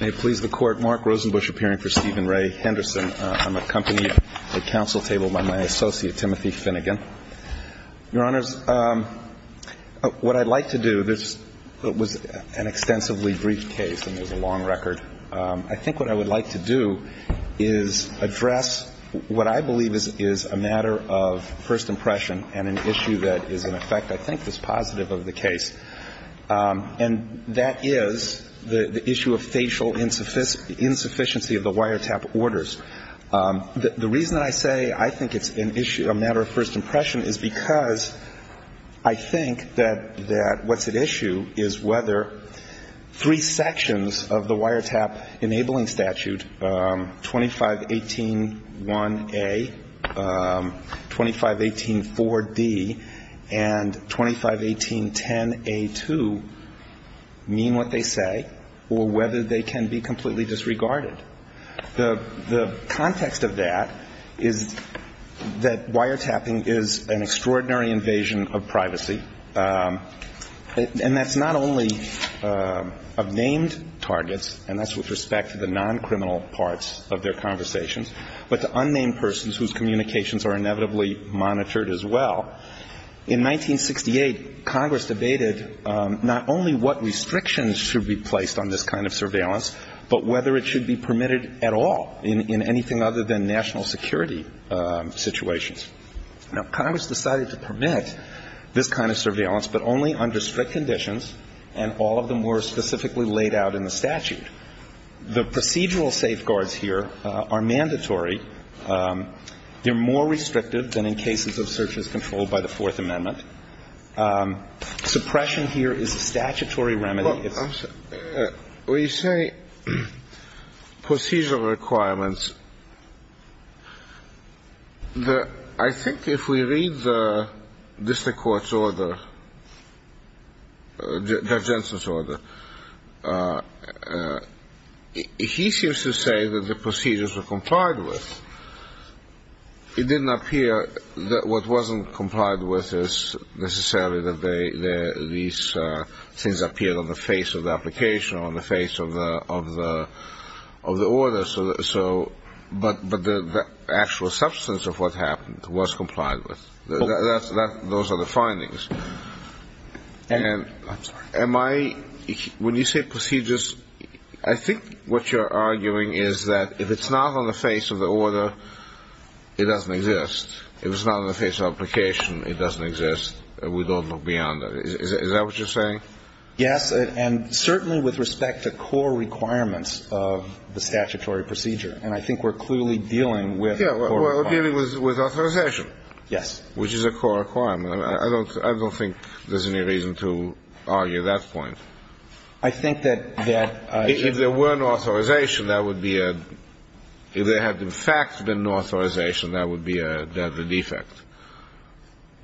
May it please the Court, Mark Rosenbusch appearing for Stephen Ray Henderson. I'm accompanied at the council table by my associate Timothy Finnegan. Your Honors, what I'd like to do, this was an extensively brief case and it was a long record. I think what I would like to do is address what I believe is a matter of first impression and an issue that is in effect I think is positive of the case. And that is the issue of facial insufficiency of the wiretap orders. The reason I say I think it's a matter of first impression is because I think that what's at issue is whether three or whether they can be completely disregarded. The context of that is that wiretapping is an extraordinary invasion of privacy. And that's not only of named targets, and that's with respect to the non-criminal parts of their conversations, but the unnamed persons whose communications are inevitably monitored as well. In 1968, Congress debated not only what restrictions should be placed on this kind of surveillance, but whether it should be permitted at all in anything other than national security situations. Now, Congress decided to prevent this kind of surveillance, but only under strict conditions, and all of them were specifically laid out in the statute. The procedural safeguards here are mandatory. They're more restrictive than in cases of searches controlled by the Fourth Amendment. Suppression here is a statutory remedy. Well, you say procedural requirements. I think if we read the district court's order, the judge's order, he seems to say that the procedures were complied with. It didn't appear that what wasn't complied with is necessarily that these things appeared on the face of the application or on the face of the order, but the actual substance of what happened was complied with. Those are the findings. I'm sorry. When you say procedures, I think what you're arguing is that if it's not on the face of the order, it doesn't exist. If it's not on the face of the application, it doesn't exist, and we don't look beyond that. Is that what you're saying? Yes, and certainly with respect to core requirements of the statutory procedure, and I think we're clearly dealing with core requirements. Yeah, we're dealing with authorization. Yes. Which is a core requirement. I don't think there's any reason to argue that point. I think that... If there were an authorization, that would be a... if there had, in fact, been an authorization, that would be a... that's a defect,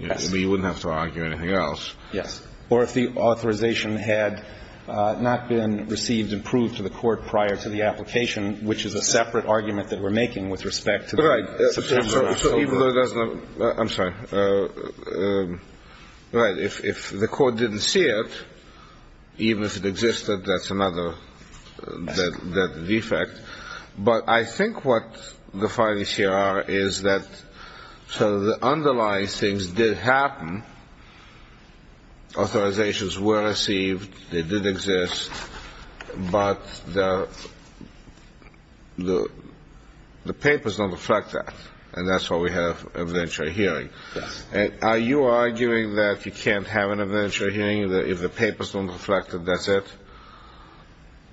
but you wouldn't have to argue anything else. Yes, or if the authorization had not been received and proved to the court prior to the application, which is a separate argument that we're making with respect to... Right, so even though there's no... I'm sorry. Right, if the court didn't see it, even if it existed, that's another... that's a defect, but I think what the findings here are is that so the underlying things did happen, authorizations were received, they did exist, but the papers don't reflect that, and that's why we have a venture hearing. Yes. Are you arguing that you can't have an adventure hearing if the papers don't reflect that that's it?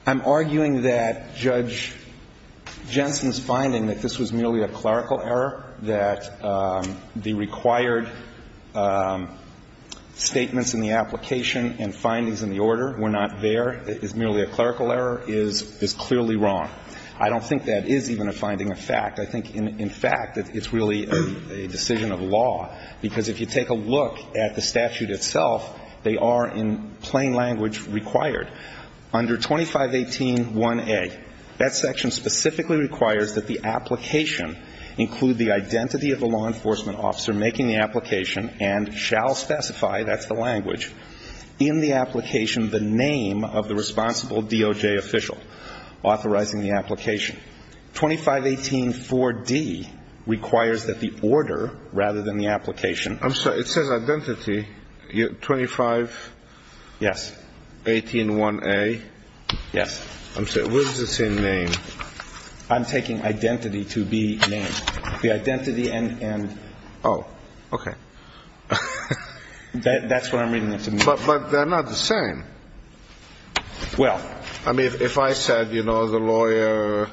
I'm arguing that Judge Jensen's finding that this was merely a clerical error, that the required statements in the application and findings in the order were not there, it was merely a clerical error, is clearly wrong. I don't think that is even a finding of fact. I think, in fact, it's really a decision of law, because if you take a look at the statute itself, they are, in plain language, required. Under 2518-1A, that section specifically requires that the application include the identity of the law enforcement officer making the application and shall specify, that's the language, in the application the name of the responsible DOJ official authorizing the application. 2518-4D requires that the order, rather than the application. I'm sorry, it says identity. 2518-1A? Yes. Where's the same name? I'm taking identity to be name. The identity and... Oh, okay. That's what I'm reading. But they're not the same. Well... I mean, if I said, you know, the lawyer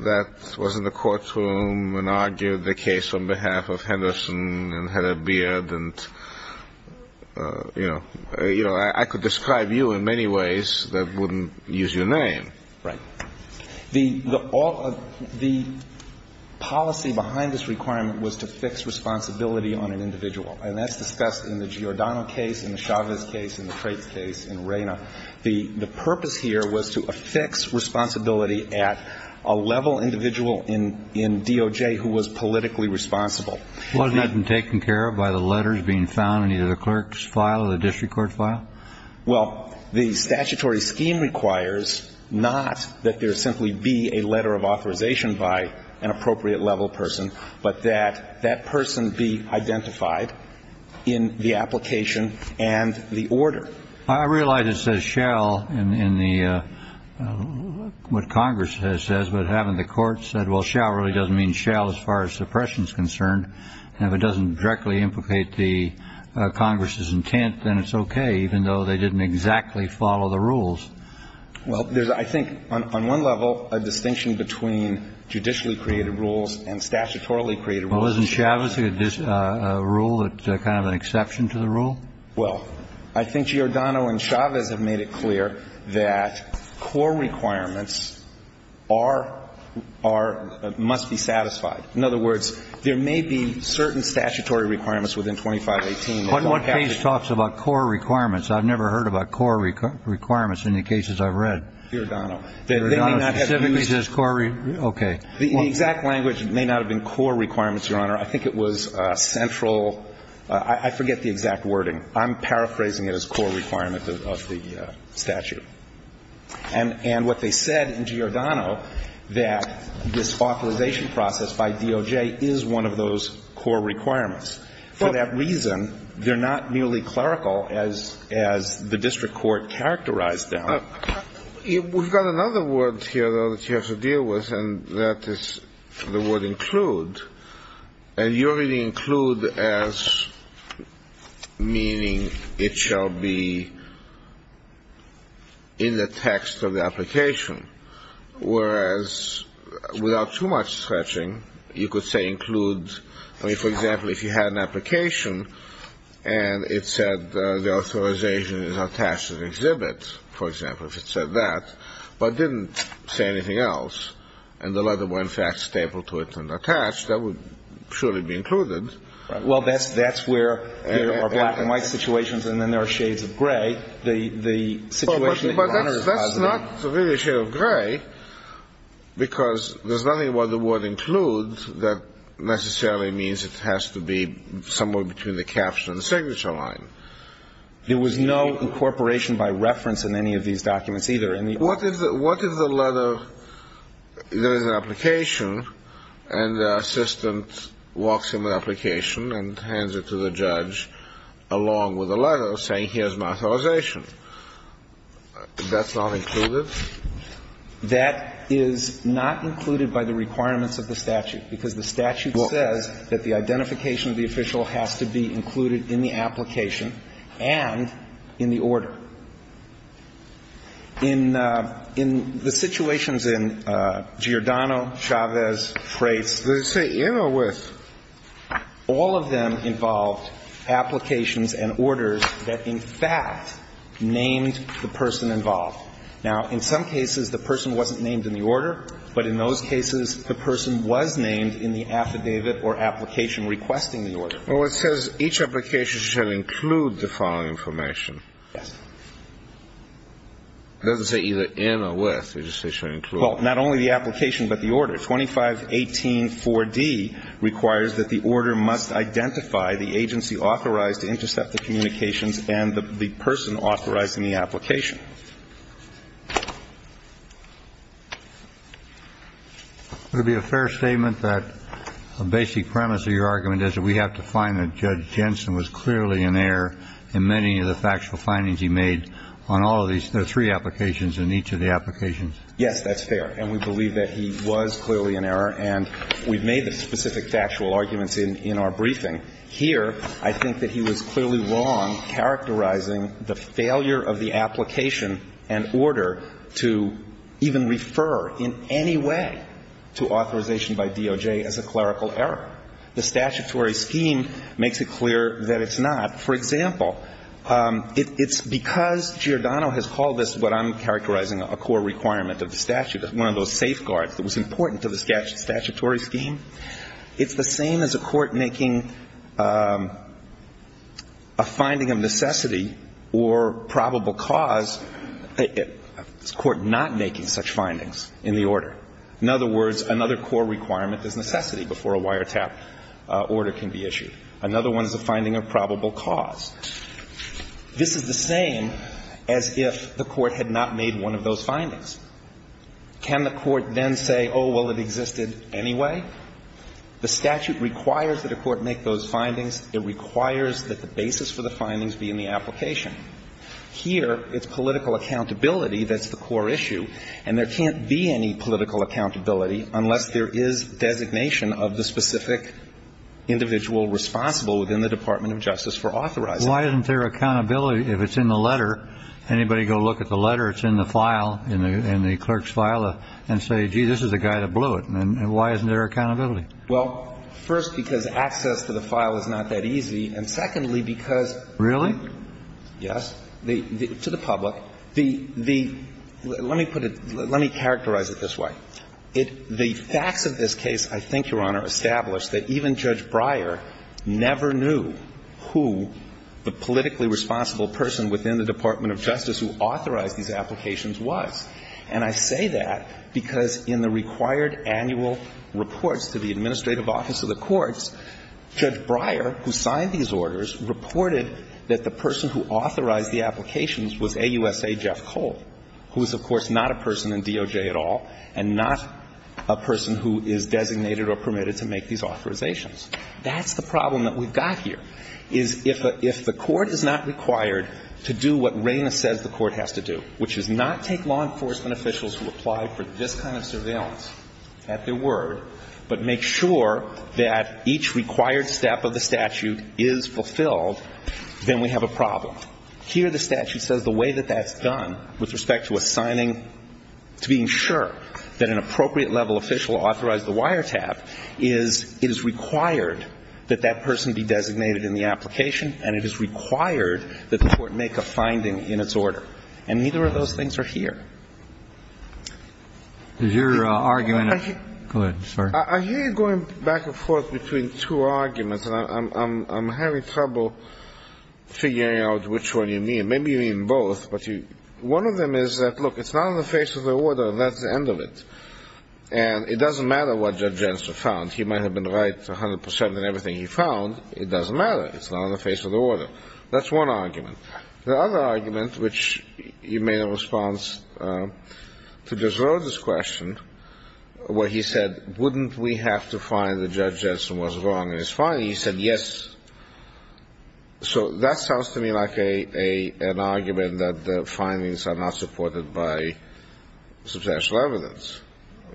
that was in the courtroom and argued the case on behalf of Henderson and had a beard and, you know, I could describe you in many ways that wouldn't use your name. Right. The policy behind this requirement was to fix responsibility on an individual, and that's discussed in the Giordano case, in the Chavez case, in the Crate case, in Reyna. The purpose here was to fix responsibility at a level individual in DOJ who was politically responsible. Wasn't it taken care of by the letters being found in either the clerk's file or the district court file? Well, the statutory scheme requires not that there simply be a letter of authorization by an appropriate level person, but that that person be identified in the application and the order. I realize it says shall in what Congress says, but having the court said, well, shall really doesn't mean shall as far as suppression is concerned. If it doesn't directly implicate the Congress's intent, then it's okay, even though they didn't exactly follow the rules. Well, I think on one level a distinction between judicially created rules and statutorily created rules... Wasn't Chavez a rule that's kind of an exception to the rule? Well, I think Giordano and Chavez have made it clear that core requirements must be satisfied. In other words, there may be certain statutory requirements within 2518... One case talks about core requirements. I've never heard about core requirements in the cases I've read. Giordano. Giordano specifically says core... okay. The exact language may not have been core requirements, Your Honor. I think it was central... I forget the exact wording. I'm paraphrasing it as core requirements of the statute. And what they said in Giordano, that this authorization process by DOJ is one of those core requirements. For that reason, they're not nearly clerical as the district court characterized them. We've got another word here, though, that you have to deal with, and that is the word include. And you already include as meaning it shall be in the text of the application. Whereas without too much stretching, you could say include... for example, if it said that, but didn't say anything else, and the letter were, in fact, stapled to it and attached, that would surely be included. Well, that's where there are black and white situations and then there are shades of gray. The situation... But that's not really a shade of gray because there's nothing where the word includes that necessarily means it has to be somewhere between the caption and the signature line. There was no incorporation by reference in any of these documents either. What if the letter... there's an application and the assistant walks in the application and hands it to the judge along with the letter saying here's my authorization? That's not included? That is not included by the requirements of the statute because the statute says that the identification of the official has to be included in the application and in the order. In the situations in Giordano, Chavez, Trace, they say, you know what? All of them involved applications and orders that, in fact, named the person involved. Now, in some cases, the person wasn't named in the order, but in those cases, the person was named in the affidavit or application requesting the order. Well, it says each application should include the following information. Yes. It doesn't say either in or with. It just says should include. Well, not only the application but the order. 2518-4D requires that the order must identify the agency authorized to intercept the communications and the person authorized in the application. Would it be a fair statement that a basic premise of your argument is that we have to find that Judge Jensen was clearly in error in many of the factual findings he made on all of these three applications and each of the applications? Yes, that's fair, and we believe that he was clearly in error, and we've made the specific factual arguments in our briefing. Here, I think that he was clearly wrong characterizing the failure of the application and order to even refer in any way to authorization by DOJ as a clerical error. The statutory scheme makes it clear that it's not. For example, because Giordano has called this what I'm characterizing a core requirement of the statute, one of those safeguards that was important to the statutory scheme, it's the same as a court making a finding of necessity or probable cause, a court not making such findings in the order. In other words, another core requirement is necessity before a wiretap order can be issued. Another one is a finding of probable cause. This is the same as if the court had not made one of those findings. Can the court then say, oh, well, it existed anyway? The statute requires that a court make those findings. It requires that the basis for the findings be in the application. Here, it's political accountability that's the core issue, and there can't be any political accountability unless there is designation of the specific individual responsible within the Department of Justice for authorization. Why isn't there accountability if it's in the letter? Anybody go look at the letter? It's in the file, in the clerk's file, and say, gee, this is the guy that blew it. Why isn't there accountability? Well, first, because access to the file is not that easy, and secondly, because... Really? Yes. To the public. Let me characterize it this way. The fact of this case, I think, Your Honor, established that even Judge Breyer never knew who the politically responsible person within the Department of Justice who authorized these applications was. And I say that because in the required annual reports to the administrative office of the courts, Judge Breyer, who signed these orders, reported that the person who authorized the applications was AUSA Jeff Cole, who is, of course, not a person in DOJ at all, and not a person who is designated or permitted to make these authorizations. That's the problem that we've got here. If the court is not required to do what Rana says the court has to do, which is not take law enforcement officials who apply for this kind of surveillance at their word, but make sure that each required step of the statute is fulfilled, then we have a problem. Here the statute says the way that that's done with respect to assigning, to being sure that an appropriate level official authorized the wiretap, is it is required that that person be designated in the application, and it is required that the court make a finding in its order. And neither of those things are here. Is there an argument... Go ahead, sir. I hear you going back and forth between two arguments. I'm having trouble figuring out which one you mean. Maybe you mean both. One of them is that, look, it's not on the face of the order. That's the end of it. And it doesn't matter what Judge Jetson found. He might have been right 100% in everything he found. It doesn't matter. It's not on the face of the order. That's one argument. The other argument, which you made a response to Desrosiers' question, where he said, wouldn't we have to find that Judge Jetson was wrong in his finding, and he said yes. So that sounds to me like an argument that the findings are not supported by substantial evidence,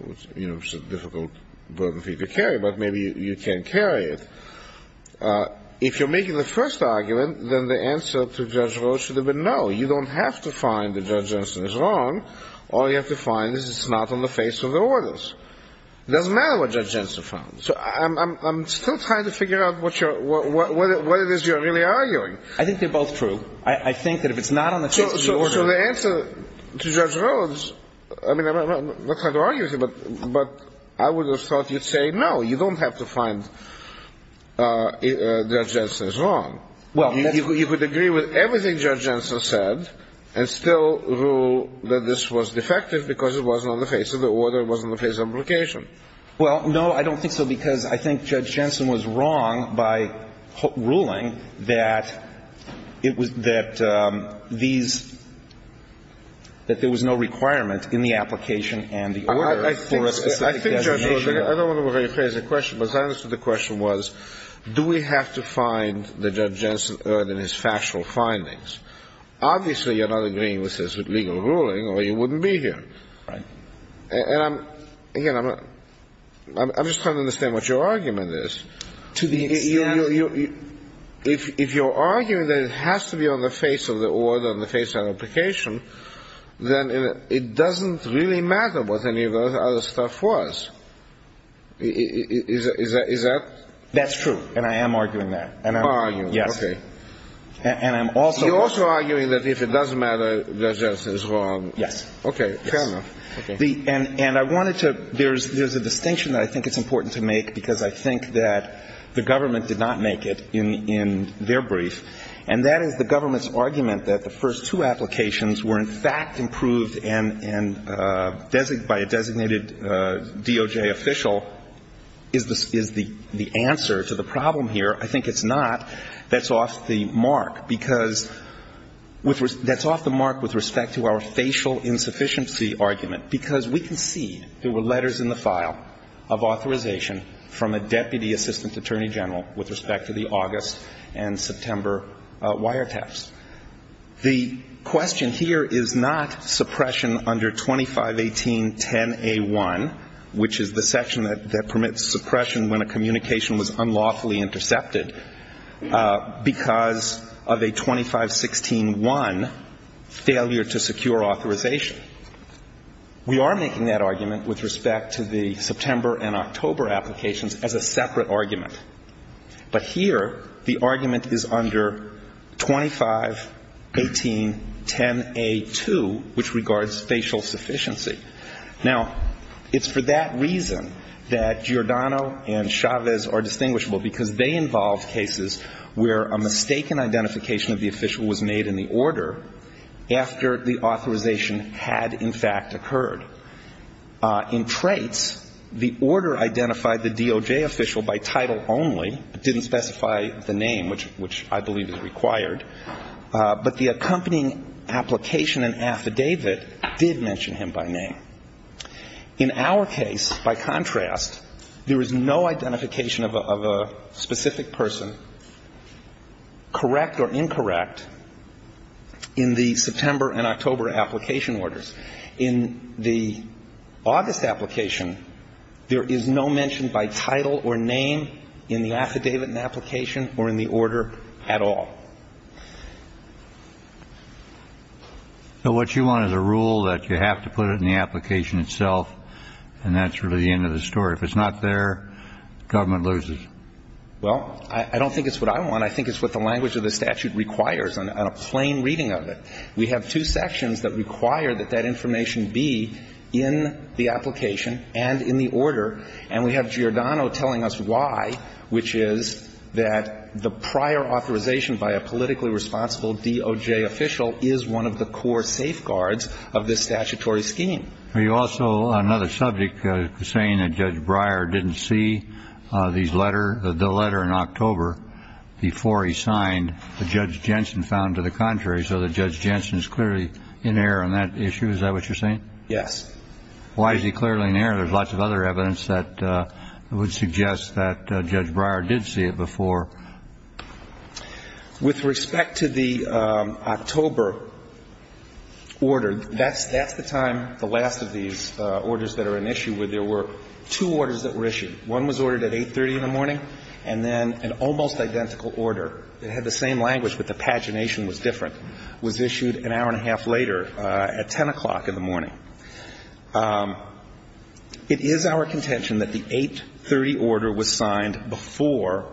which is a difficult burden for you to carry, but maybe you can carry it. If you're making the first argument, then the answer to Judge Rose should have been no. You don't have to find that Judge Jetson is wrong. All you have to find is it's not on the face of the orders. It doesn't matter what Judge Jetson found. So I'm still trying to figure out what it is you're really arguing. I think they're both true. I think that if it's not on the face of the order. So the answer to Judge Rose, I mean, I don't know what kind of argument, but I would have thought you'd say no, you don't have to find that Judge Jetson is wrong. You could agree with everything Judge Jetson said and still rule that this was defective because it wasn't on the face of the order, it wasn't on the face of the application. Well, no, I don't think so because I think Judge Jetson was wrong by ruling that these, that there was no requirement in the application and the order. I think Judge Rose, I don't remember a very clear answer to the question, but the answer to the question was do we have to find that Judge Jetson earned in his factual findings. Obviously you're not agreeing with his legal ruling or he wouldn't be here. Again, I'm just trying to understand what your argument is. If you're arguing that it has to be on the face of the order, on the face of the application, then it doesn't really matter what any of the other stuff was. Is that? That's true, and I am arguing that. You are arguing, okay. And I'm also arguing that if it doesn't matter, Judge Jetson is wrong. Yes. Okay, fair enough. And I wanted to, there's a distinction that I think is important to make because I think that the government did not make it in their brief, and that is the government's argument that the first two applications were, in fact, approved by a designated DOJ official is the answer to the problem here. I think it's not. That's off the mark because, that's off the mark with respect to our facial insufficiency argument because we can see there were letters in the file of authorization from a deputy assistant attorney general with respect to the August and September wiretaps. The question here is not suppression under 251810A1, which is the section that permits suppression when a communication was unlawfully intercepted. Because of a 25161 failure to secure authorization. We are making that argument with respect to the September and October applications as a separate argument. But here, the argument is under 251810A2, which regards facial sufficiency. Now, it's for that reason that Giordano and Chavez are distinguishable because they involve cases where a mistaken identification of the official was made in the order after the authorization had, in fact, occurred. In traits, the order identified the DOJ official by title only. It didn't specify the name, which I believe is required. But the accompanying application and affidavit did mention him by name. In our case, by contrast, there is no identification of a specific person, correct or incorrect, in the September and October application orders. In the August application, there is no mention by title or name in the affidavit and application or in the order at all. So what you want is a rule that you have to put it in the application itself, and that's really the end of the story. If it's not there, government loses. Well, I don't think it's what I want. I think it's what the language of the statute requires on a plain reading of it. We have two sections that require that that information be in the application and in the order, and we have Giordano telling us why, which is that the prior authorization by a politically responsible DOJ official is one of the core safeguards of this statutory scheme. There's also another subject saying that Judge Breyer didn't see the letter in October before he signed, that Judge Jensen found to the contrary, so that Judge Jensen is clearly in error on that issue. Is that what you're saying? Yes. Why is he clearly in error? There's lots of other evidence that would suggest that Judge Breyer did see it before. With respect to the October order, that's the time, the last of these orders that are in issue, where there were two orders that were issued. One was ordered at 8.30 in the morning, and then an almost identical order. It had the same language, but the pagination was different. It was issued an hour and a half later, at 10 o'clock in the morning. It is our contention that the 8.30 order was signed before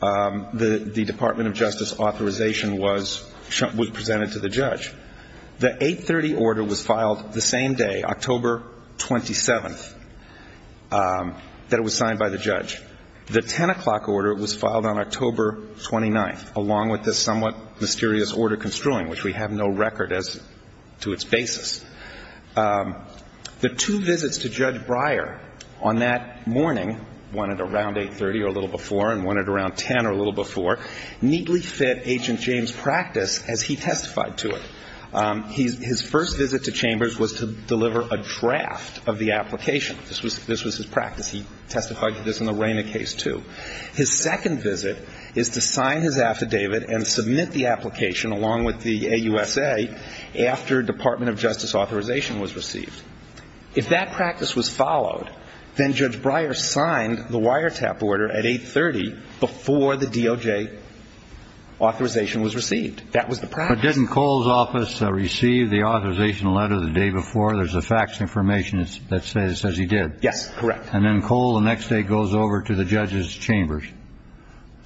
the Department of Justice authorization was presented to the judge. The 8.30 order was filed the same day, October 27th, that it was signed by the judge. The 10 o'clock order was filed on October 29th, along with this somewhat mysterious order construing, which we have no record as to its basis. The two visits to Judge Breyer on that morning, one at around 8.30 or a little before, and one at around 10 or a little before, neatly fit Agent James' practice as he testified to it. His first visit to Chambers was to deliver a draft of the application. This was his practice. He testified to this in the Raymond case, too. His second visit is to sign his affidavit and submit the application, along with the AUSA, after Department of Justice authorization was received. If that practice was followed, then Judge Breyer signed the wiretap order at 8.30, before the DOJ authorization was received. That was the practice. But didn't Cole's office receive the authorization letter the day before? There's a faxed information that says he did. Yes, correct. And then Cole, the next day, goes over to the judge's chambers.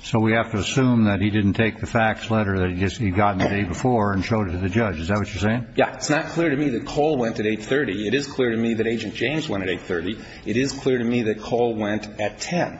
So we have to assume that he didn't take the faxed letter that he got the day before and showed it to the judge. Is that what you're saying? Yes. It's not clear to me that Cole went at 8.30. It is clear to me that Agent James went at 8.30. It is clear to me that Cole went at 10.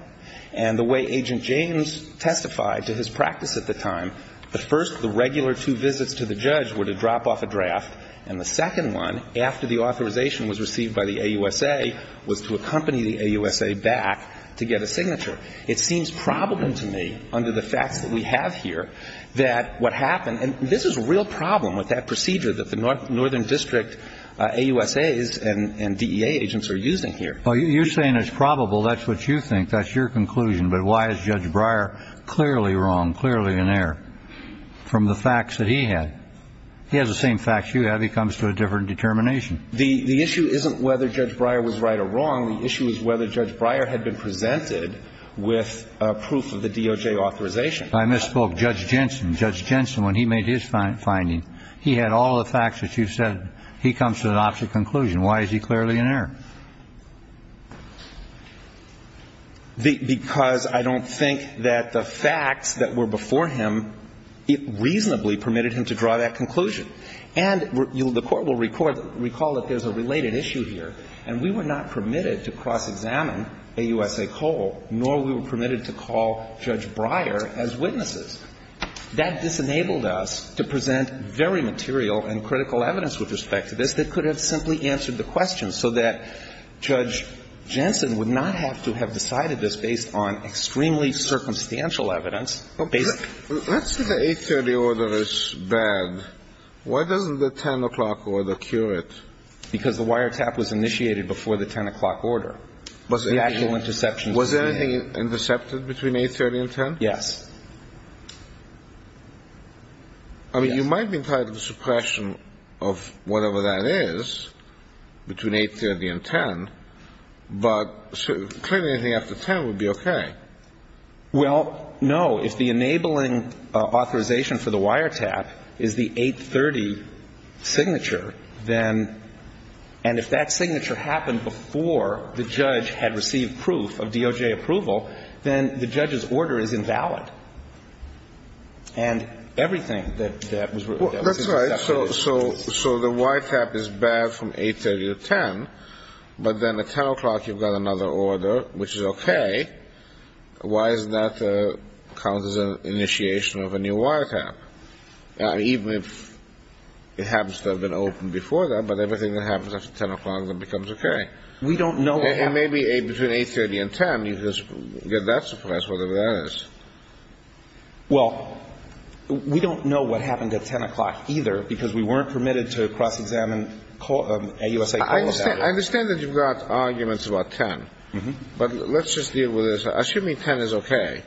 And the way Agent James testified to his practice at the time, the first of the regular two visits to the judge were to drop off a draft, and the second one, after the authorization was received by the AUSA, was to accompany the AUSA back to get a signature. It seems probable to me, under the fact that we have here, that what happened, and this is a real problem with that procedure that the Northern District AUSAs and DEA agents are using here. You're saying it's probable. That's what you think. That's your conclusion. But why is Judge Breyer clearly wrong, clearly in error, from the facts that he had? He has the same facts you have. He comes to a different determination. The issue isn't whether Judge Breyer was right or wrong. The issue is whether Judge Breyer had been presented with proof of the DOJ authorization. I misspoke. Judge Jensen. Judge Jensen, when he made his finding, he had all the facts that you said. He comes to the opposite conclusion. Why is he clearly in error? Because I don't think that the facts that were before him reasonably permitted him to draw that conclusion. And the Court will recall that there's a related issue here, and we were not permitted to cross-examine AUSA Cole, nor were we permitted to call Judge Breyer as witnesses. That disenabled us to present very material and critical evidence with respect to this that could have simply answered the question, so that Judge Jensen would not have to have decided this based on extremely circumstantial evidence. Let's say the 830 order is bad. Why doesn't the 10 o'clock order cure it? Because the wiretap was initiated before the 10 o'clock order. Was there anything intercepted between 830 and 10? Yes. I mean, you might be entitled to suppression of whatever that is between 830 and 10, but clearly anything after 10 would be okay. Well, no. If the enabling authorization for the wiretap is the 830 signature, and if that signature happened before the judge had received proof of DOJ approval, then the judge's order is invalid. And everything that was written about that was invalid. That's right. So the wiretap is bad from 830 to 10, but then at 10 o'clock you've got another order, which is okay. Why doesn't that cause the initiation of a new wiretap? Even if it happens to have been open before that, but everything that happens after 10 o'clock then becomes okay. We don't know what happened. Well, maybe between 830 and 10, because that's suppressed, whatever that is. Well, we don't know what happened at 10 o'clock either, because we weren't permitted to cross-examine AUSA code. I understand that you've got arguments about 10, but let's just deal with this. Assuming 10 is okay,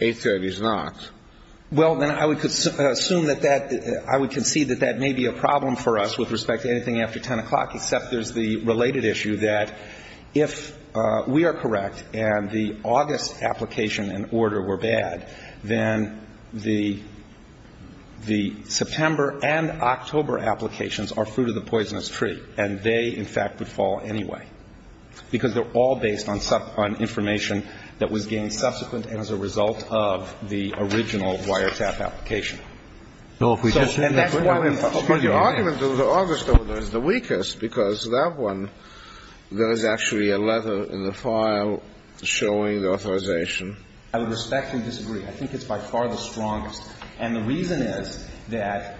830 is not. Well, then I would concede that that may be a problem for us with respect to anything after 10 o'clock, except there's the related issue that if we are correct and the August application and order were bad, then the September and October applications are fruit of the poisonous tree, and they, in fact, would fall anyway, because they're all based on information that was gained subsequent and as a result of the original wiretap application. But the argument that the August is the weakest, because that one, there's actually a letter in the file showing the authorization. I would respectfully disagree. I think it's by far the strongest, and the reason is that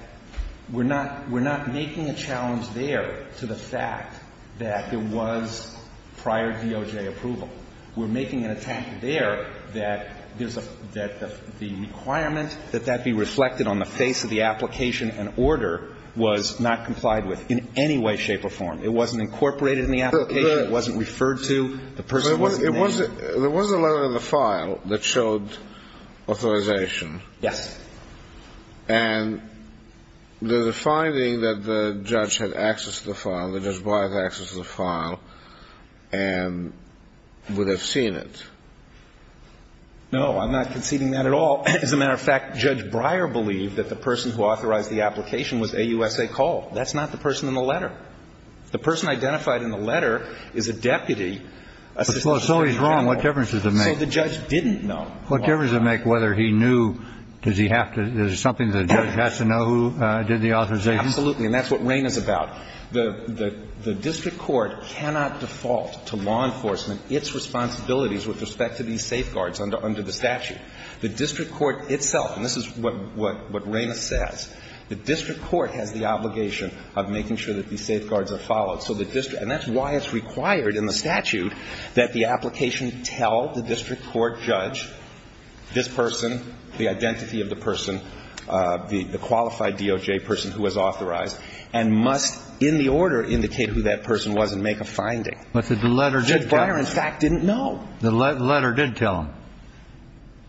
we're not making a challenge there to the fact that there was prior DOJ approval. We're making an attempt there that the requirement that that be reflected on the face of the application and order was not complied with in any way, shape, or form. It wasn't incorporated in the application. It wasn't referred to. It wasn't a letter in the file that showed authorization. Yes. And the finding that the judge had access to the file, and would have seen it. No, I'm not conceding that at all. As a matter of fact, Judge Breyer believed that the person who authorized the application was a USA call. That's not the person in the letter. The person identified in the letter is a deputy. So he's wrong. What difference does it make? The judge didn't know. What difference does it make whether he knew, does he have to, is it something that the judge has to know who did the authorization? Absolutely, and that's what Raymond's about. The district court cannot default to law enforcement, its responsibilities with respect to these safeguards under the statute. The district court itself, and this is what Raymond says, the district court has the obligation of making sure that these safeguards are followed. And that's why it's required in the statute that the application tell the district court judge, this person, the identity of the person, the qualified DOJ person who has authorized, and must, in the order, indicate who that person was and make a finding. But the letter did tell him. Judge Breyer, in fact, didn't know. The letter did tell him.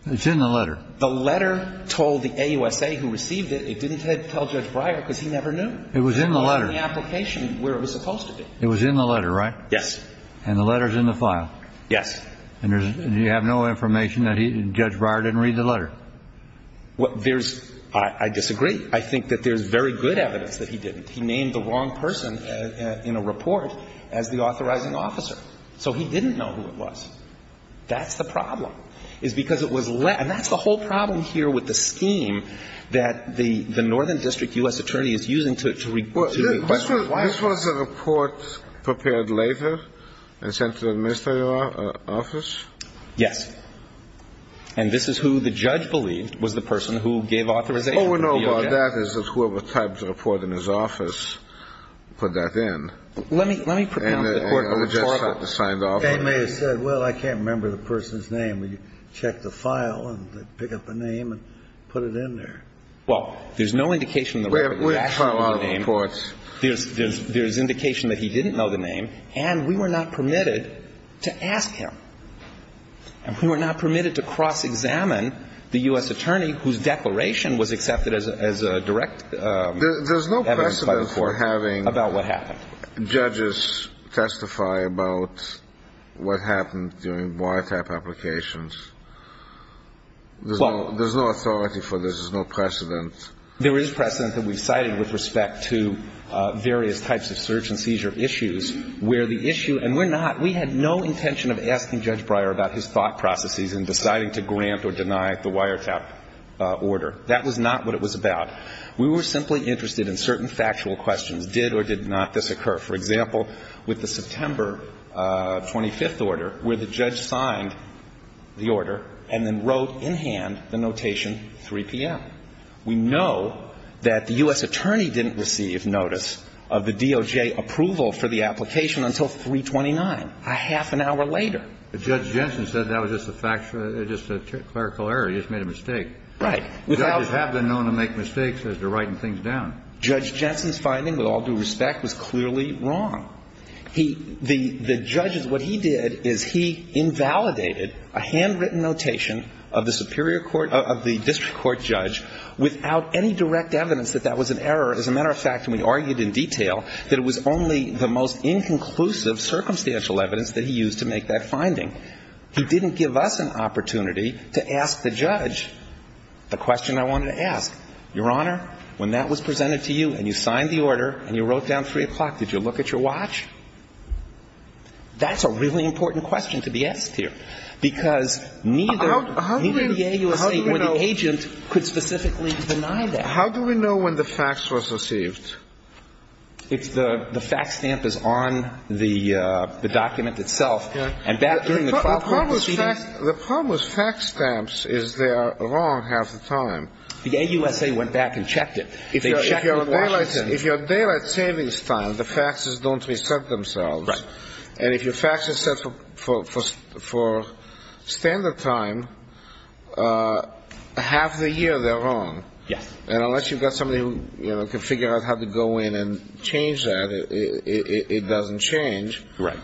It's in the letter. The letter told the AUSA who received it, it didn't tell Judge Breyer because he never knew. It was in the letter. It was in the application where it was supposed to be. It was in the letter, right? Yes. And the letter's in the file? Yes. And you have no information that Judge Breyer didn't read the letter? Well, there's, I disagree. I think that there's very good evidence that he didn't. He named the wrong person in a report as the authorizing officer. So he didn't know who it was. That's the problem, is because it was left, and that's the whole problem here with the scheme that the Northern District U.S. Attorney is using to report. This was a report prepared later? In terms of the ministerial office? Yes. And this is who the judge believed was the person who gave authorization? Oh, no. That is whoever typed the report in his office put that in. Let me put that in the report. They may have said, well, I can't remember the person's name, and you check the file and pick up a name and put it in there. Well, there's no indication that he actually knew the name. There's indication that he didn't know the name, and we were not permitted to ask him. And we were not permitted to cross-examine the U.S. Attorney, whose declaration was accepted as direct evidence by the court about what happened. There's no precedent for having judges testify about what happened during boycott applications. There's no authority for this. There's no precedent. There is precedent that we've cited with respect to various types of search and seizure issues, and we had no intention of asking Judge Breyer about his thought processes in deciding to grant or deny the wiretap order. That was not what it was about. We were simply interested in certain factual questions. Did or did not this occur? For example, with the September 25th order, where the judge signed the order and then wrote in hand the notation 3 p.m. We know that the U.S. Attorney didn't receive notice of the DOJ approval for the application until 3.29, a half an hour later. But Judge Jensen said that was just a fact, just a clerical error. He just made a mistake. Right. Judges have been known to make mistakes as they're writing things down. Judge Jensen's finding, with all due respect, was clearly wrong. What he did is he invalidated a handwritten notation of the district court judge without any direct evidence that that was an error. As a matter of fact, we argued in detail that it was only the most inconclusive circumstantial evidence that he used to make that finding. He didn't give us an opportunity to ask the judge the question I wanted to ask. Your Honor, when that was presented to you and you signed the order and you wrote down 3 o'clock, did you look at your watch? That's a really important question to be asked here because neither the AUSA or the agent could specifically deny that. How do we know when the fax was received? If the fax stamp is on the document itself. The problem with fax stamps is they're wrong half the time. The AUSA went back and checked it. If your daylight savings time, the faxes don't reset themselves, and if your fax is set for standard time, half the year they're wrong. Unless you've got somebody who can figure out how to go in and change that, it doesn't change. Right.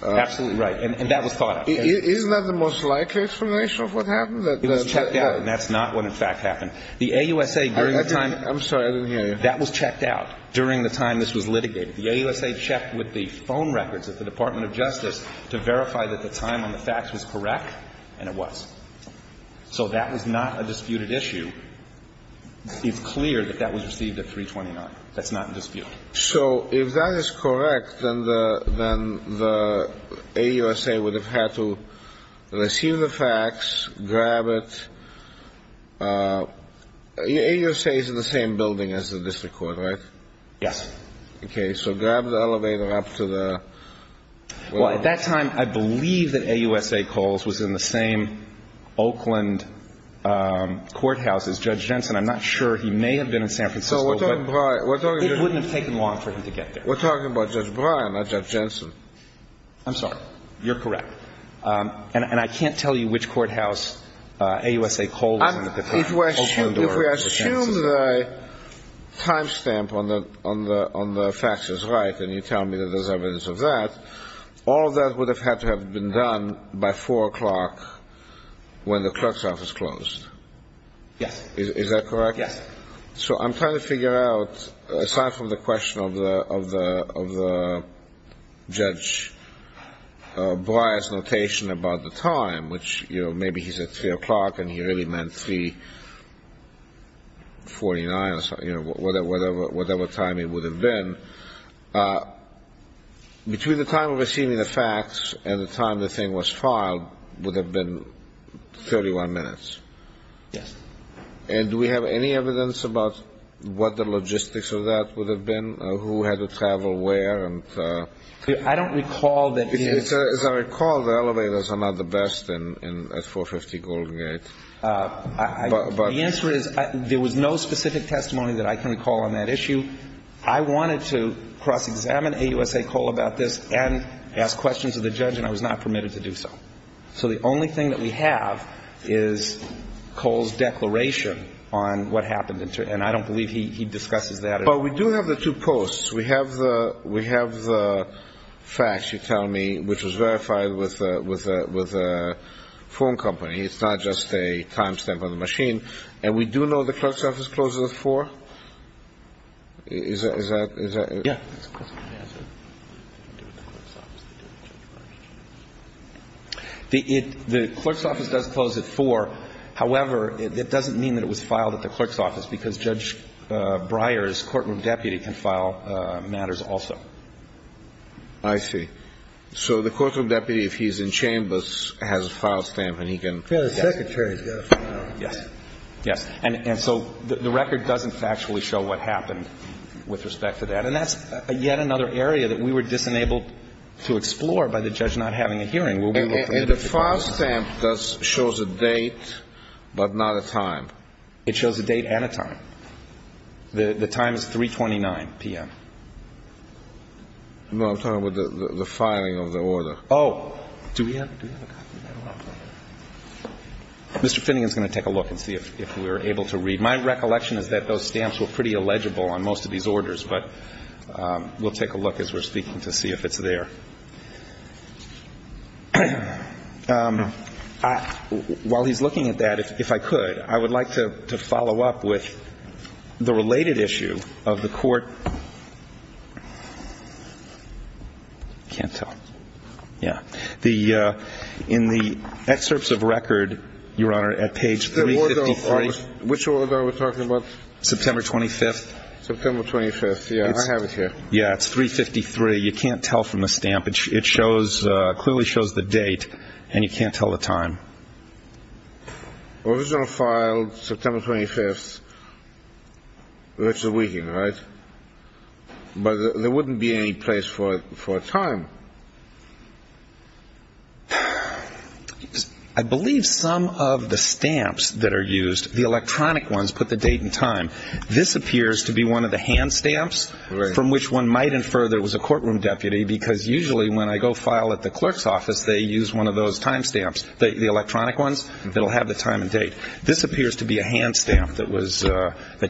Absolutely right. And that was caught up. Isn't that the most likely explanation of what happened? It was checked out, and that's not when the fax happened. I'm sorry, I didn't hear you. That was checked out during the time this was litigated. The AUSA checked with the phone records at the Department of Justice to verify that the time on the fax was correct, and it was. So that was not a disputed issue. It's clear that that was received at 3.29. That's not a dispute. So if that is correct, then the AUSA would have had to receive the fax, grab it. The AUSA is in the same building as the district court, right? Yes. Okay, so grab the elevator up to the... Well, at that time, I believe that AUSA Coles was in the same Oakland courthouse as Judge Jensen. I'm not sure. He may have been in San Francisco, but it wouldn't have taken long for him to get there. We're talking about Judge Breyer, not Judge Jensen. I'm sorry. You're correct. And I can't tell you which courthouse AUSA Coles was in at the time. If we assume the time stamp on the fax is right, and you tell me that there's evidence of that, all that would have had to have been done by 4 o'clock when the clerk's office closed. Yes. Is that correct? Yes. So I'm trying to figure out, aside from the question of Judge Breyer's notation about the time, which maybe he said 3 o'clock and he really meant 3.49 or whatever time it would have been, between the time of receiving the fax and the time the thing was filed would have been 31 minutes. Yes. And do we have any evidence about what the logistics of that would have been? Who had to travel where? I don't recall that. As I recall, the elevators are not the best at 450 Golden Gate. The answer is there was no specific testimony that I can recall on that issue. I wanted to cross-examine AUSA Cole about this and ask questions of the judge, and I was not permitted to do so. So the only thing that we have is Cole's declaration on what happened. And I don't believe he discussed that at all. Well, we do have the two posts. We have the fax, you tell me, which was verified with a phone company. It's not just a timestamp on the machine. And we do know the clerk's office closes at 4? Is that correct? Yes. The clerk's office does close at 4. However, it doesn't mean that it was filed at the clerk's office because Judge Breyer's courtroom deputy can file matters also. I see. So the courtroom deputy, if he's in chambers, has a file stamp and he can- And so the record doesn't factually show what happened with respect to that. And that's yet another area that we were just unable to explore by the judge not having a hearing. The file stamp shows a date but not a time. It shows a date and a time. The time is 329 p.m. No, I'm talking about the filing of the order. Oh. Do we have to do that? Mr. Finning is going to take a look and see if we're able to read. My recollection is that those stamps were pretty illegible on most of these orders. But we'll take a look as we're speaking to see if it's there. While he's looking at that, if I could, I would like to follow up with the related issue of the court- Can't tell. Yeah. In the excerpts of record, Your Honor, at page 353- Which order are we talking about? September 25th. September 25th. Yeah, I have it here. Yeah, it's 353. You can't tell from the stamp. It clearly shows the date and you can't tell the time. Original file, September 25th. We're actually reading, right? But there wouldn't be any place for a time. I believe some of the stamps that are used, the electronic ones, put the date and time. This appears to be one of the hand stamps from which one might infer there was a courtroom deputy because usually when I go file at the clerk's office, they use one of those time stamps. The electronic ones, they'll have the time and date. This appears to be a hand stamp that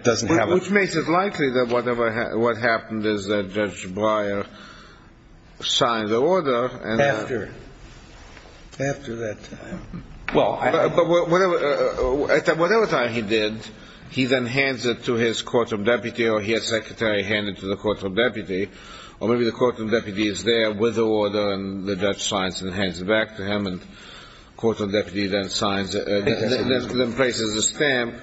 doesn't have a- Which makes it likely that what happened is that Judge Breyer signed the order- After it. After that time. Well, at whatever time he did, he then hands it to his courtroom deputy or he has secretary hand it to the courtroom deputy, or maybe the courtroom deputy is there with the order and the judge signs it and hands it back to him and the courtroom deputy then places the stamp,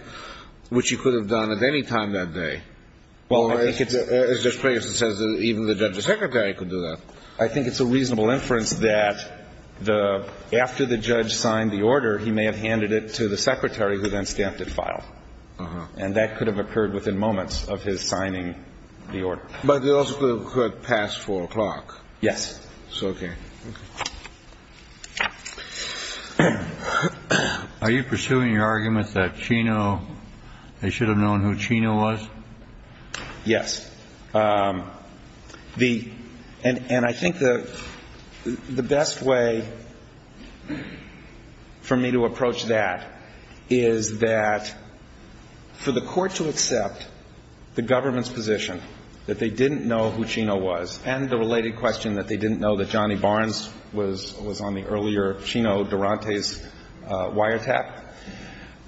which he could have done at any time that day. Well, as Judge Breyer says, even the judge's secretary could do that. I think it's a reasonable inference that after the judge signed the order, he may have handed it to the secretary who then stamped the file. And that could have occurred within moments of his signing the order. But it also could have passed 4 o'clock. Yes. Okay. Are you pursuing your argument that Chino, they should have known who Chino was? Yes. And I think the best way for me to approach that is that for the court to accept the government's position that they didn't know who Chino was and the related question that they didn't know that Johnny Barnes was on the earlier Chino Durante's wiretap,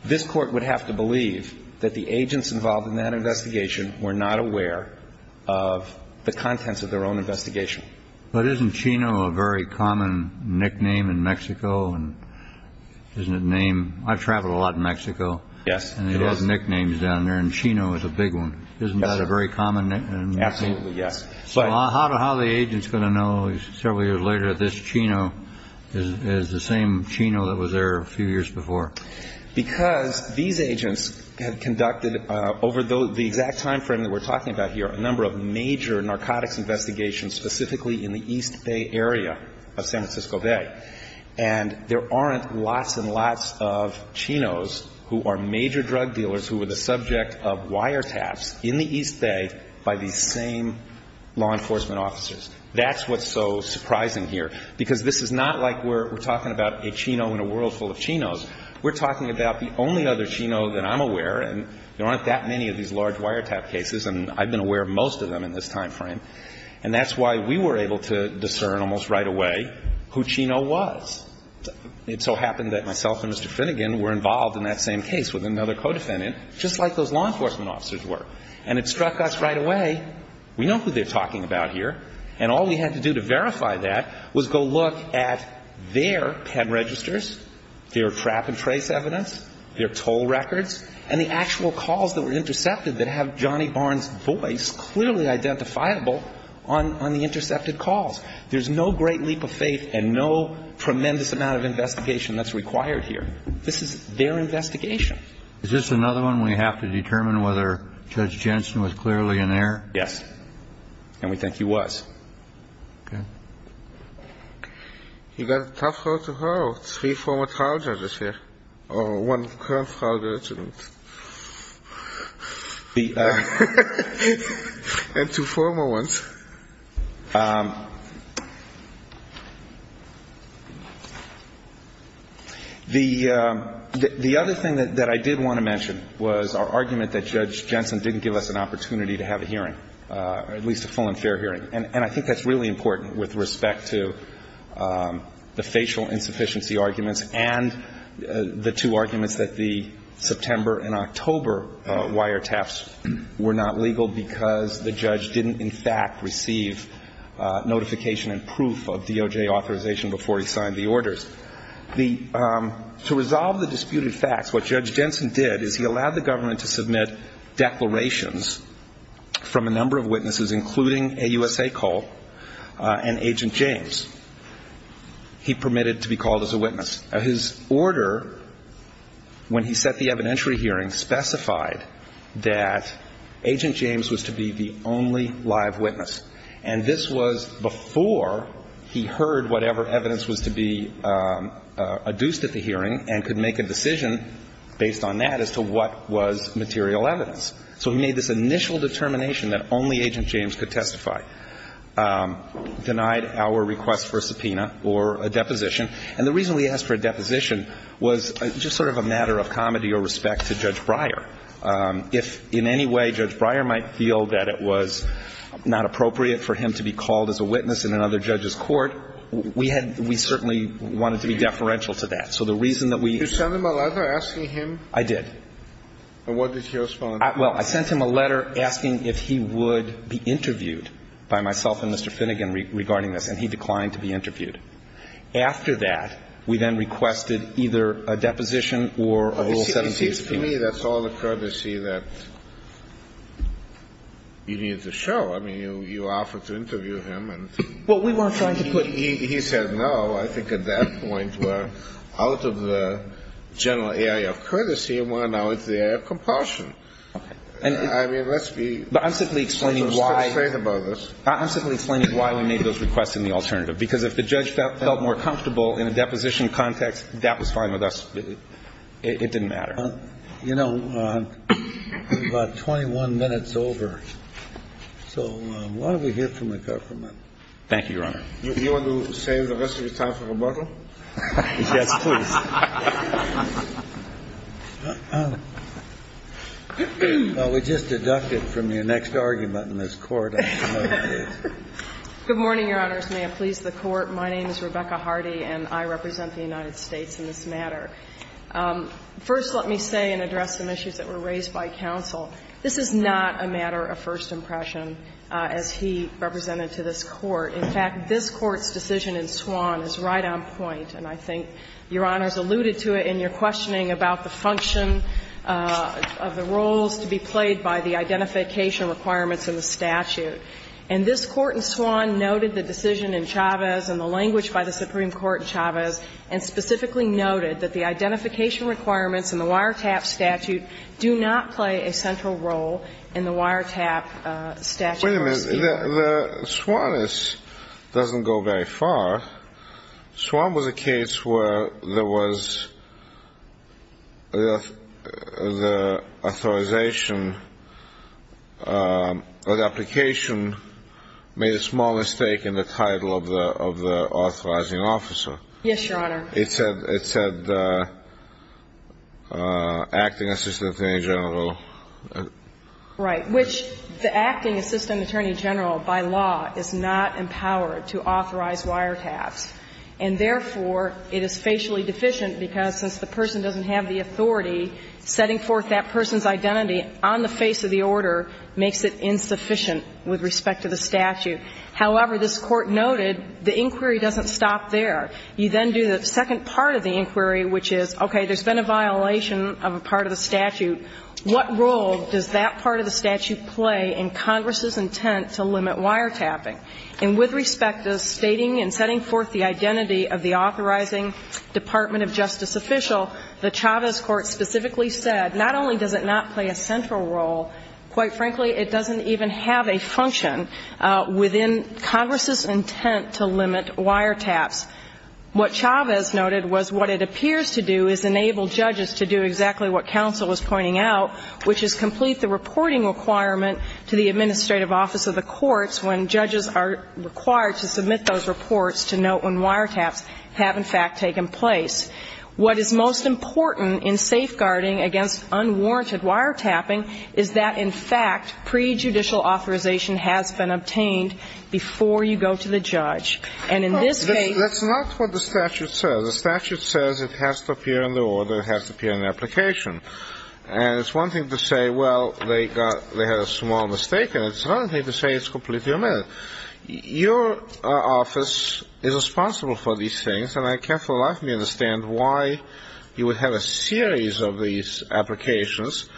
this court would have to believe that the agents involved in that investigation were not aware of the contents of their own investigation. But isn't Chino a very common nickname in Mexico? And isn't it named? I travel a lot in Mexico. Yes. And it has nicknames down there, and Chino is a big one. Isn't that a very common nickname? Absolutely, yes. So how are the agents going to know several years later this Chino is the same Chino that was there a few years before? Because these agents have conducted over the exact time frame that we're talking about here a number of major narcotics investigations specifically in the East Bay area of San Francisco Bay. And there aren't lots and lots of Chinos who are major drug dealers who were the subject of wiretaps in the East Bay by these same law enforcement officers. That's what's so surprising here. Because this is not like we're talking about a Chino in a world full of Chinos. We're talking about the only other Chino that I'm aware of, and there aren't that many of these large wiretap cases, and I've been aware of most of them in this time frame. And that's why we were able to discern almost right away who Chino was. It so happened that myself and Mr. Finnegan were involved in that same case with another co-defendant, just like those law enforcement officers were. And it struck us right away, we know who they're talking about here, and all we had to do to verify that was go look at their pen registers, their trap and trace evidence, their toll records, and the actual calls that were intercepted that have Johnny Barnes' voice clearly identifiable on the intercepted calls. There's no great leap of faith and no tremendous amount of investigation that's required here. This is their investigation. Is this another one we have to determine whether Judge Jensen was clearly in there? Yes, and we think he was. Okay. You've got a tough call to hold. Three former trial judges here, or one current trial judge. And two former ones. The other thing that I did want to mention was our argument that Judge Jensen didn't give us an opportunity to have a hearing, or at least a full and fair hearing. And I think that's really important with respect to the facial insufficiency arguments and the two arguments that the September and October wiretaps were not legal because the judge didn't, in fact, receive notification and proof of DOJ authorization before he signed the orders. To resolve the disputed facts, what Judge Jensen did is he allowed the government to submit declarations from a number of witnesses, including a USA call and Agent James. He permitted to be called as a witness. His order, when he set the evidentiary hearing, specified that Agent James was to be the only live witness. And this was before he heard whatever evidence was to be adduced at the hearing and could make a decision based on that as to what was material evidence. So he made this initial determination that only Agent James could testify. Denied our request for a subpoena or a deposition. And the reason we asked for a deposition was just sort of a matter of comedy or respect to Judge Breyer. If in any way Judge Breyer might feel that it was not appropriate for him to be called as a witness in another judge's court, we certainly wanted to be deferential to that. So the reason that we... Did you send him a letter asking him? I did. And what did he respond? Well, I sent him a letter asking if he would be interviewed by myself and Mr. Finnegan regarding this, and he declined to be interviewed. After that, we then requested either a deposition or a little set in stone. To me, that's all the courtesy that you needed to show. I mean, you offered to interview him and... Well, we weren't trying to put... But I'm simply explaining why we made those requests in the alternative, because if the judge felt more comfortable in a deposition context, that was fine with us. It didn't matter. You know, we've got 21 minutes over, so why don't we hear from the court for a minute? Thank you, Your Honor. Do you want to save the rest of your time for rebuttal? Yes, please. Well, we just deducted from your next argument in this court. Good morning, Your Honors. May it please the Court. My name is Rebecca Hardy, and I represent the United States in this matter. First, let me say and address some issues that were raised by counsel. This is not a matter of first impression, as he represented to this Court. In fact, this Court's decision in Swann is right on point, and I think Your Honors alluded to it in your questioning about the function of the roles to be played by the identification requirements of the statute. And this Court in Swann noted the decision in Chavez and the language by the Supreme Court in Chavez and specifically noted that the identification requirements in the wiretap statute do not play a central role in the wiretap statute. Wait a minute. The Swann doesn't go very far. The Swann was a case where there was the authorization or the application made a small mistake in the title of the authorizing officer. Yes, Your Honor. It said acting assistant attorney general. Right, which the acting assistant attorney general, by law, is not empowered to authorize wiretaps. And therefore, it is facially deficient because since the person doesn't have the authority, setting forth that person's identity on the face of the order makes it insufficient with respect to the statute. However, this Court noted the inquiry doesn't stop there. You then do the second part of the inquiry, which is, okay, there's been a violation of a part of the statute. What role does that part of the statute play in Congress's intent to limit wiretapping? And with respect to stating and setting forth the identity of the authorizing Department of Justice official, the Chavez Court specifically said not only does it not play a central role, quite frankly, it doesn't even have a function within Congress's intent to limit wiretaps. What Chavez noted was what it appears to do is enable judges to do exactly what counsel was pointing out, which is complete the reporting requirement to the administrative office of the courts when judges are required to submit those reports to note when wiretaps have, in fact, taken place. What is most important in safeguarding against unwarranted wiretapping is that, in fact, prejudicial authorization has been obtained before you go to the judge. And in this case That's not what the statute says. The statute says it has to appear in the order, it has to appear in the application. And it's one thing to say, well, they had a small mistake, and it's another thing to say it's completely unmet. Your office is responsible for these things, and I can't for the life of me understand why you would have a series of these applications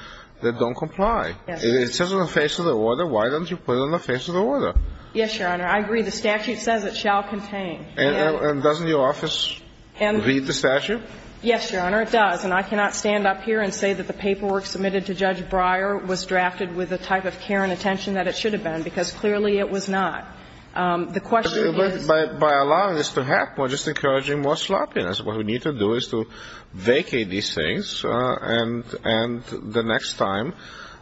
that don't comply. If it says it's in the face of the order, why don't you put it in the face of the order? Yes, Your Honor. I agree. The statute says it shall contain. And doesn't your office read the statute? Yes, Your Honor, it does. And I cannot stand up here and say that the paperwork submitted to Judge Breyer was drafted with the type of care and attention that it should have been, because clearly it was not. The question is But by allowing this to happen, we're just encouraging more sloppiness. What we need to do is to vacate these things, and the next time,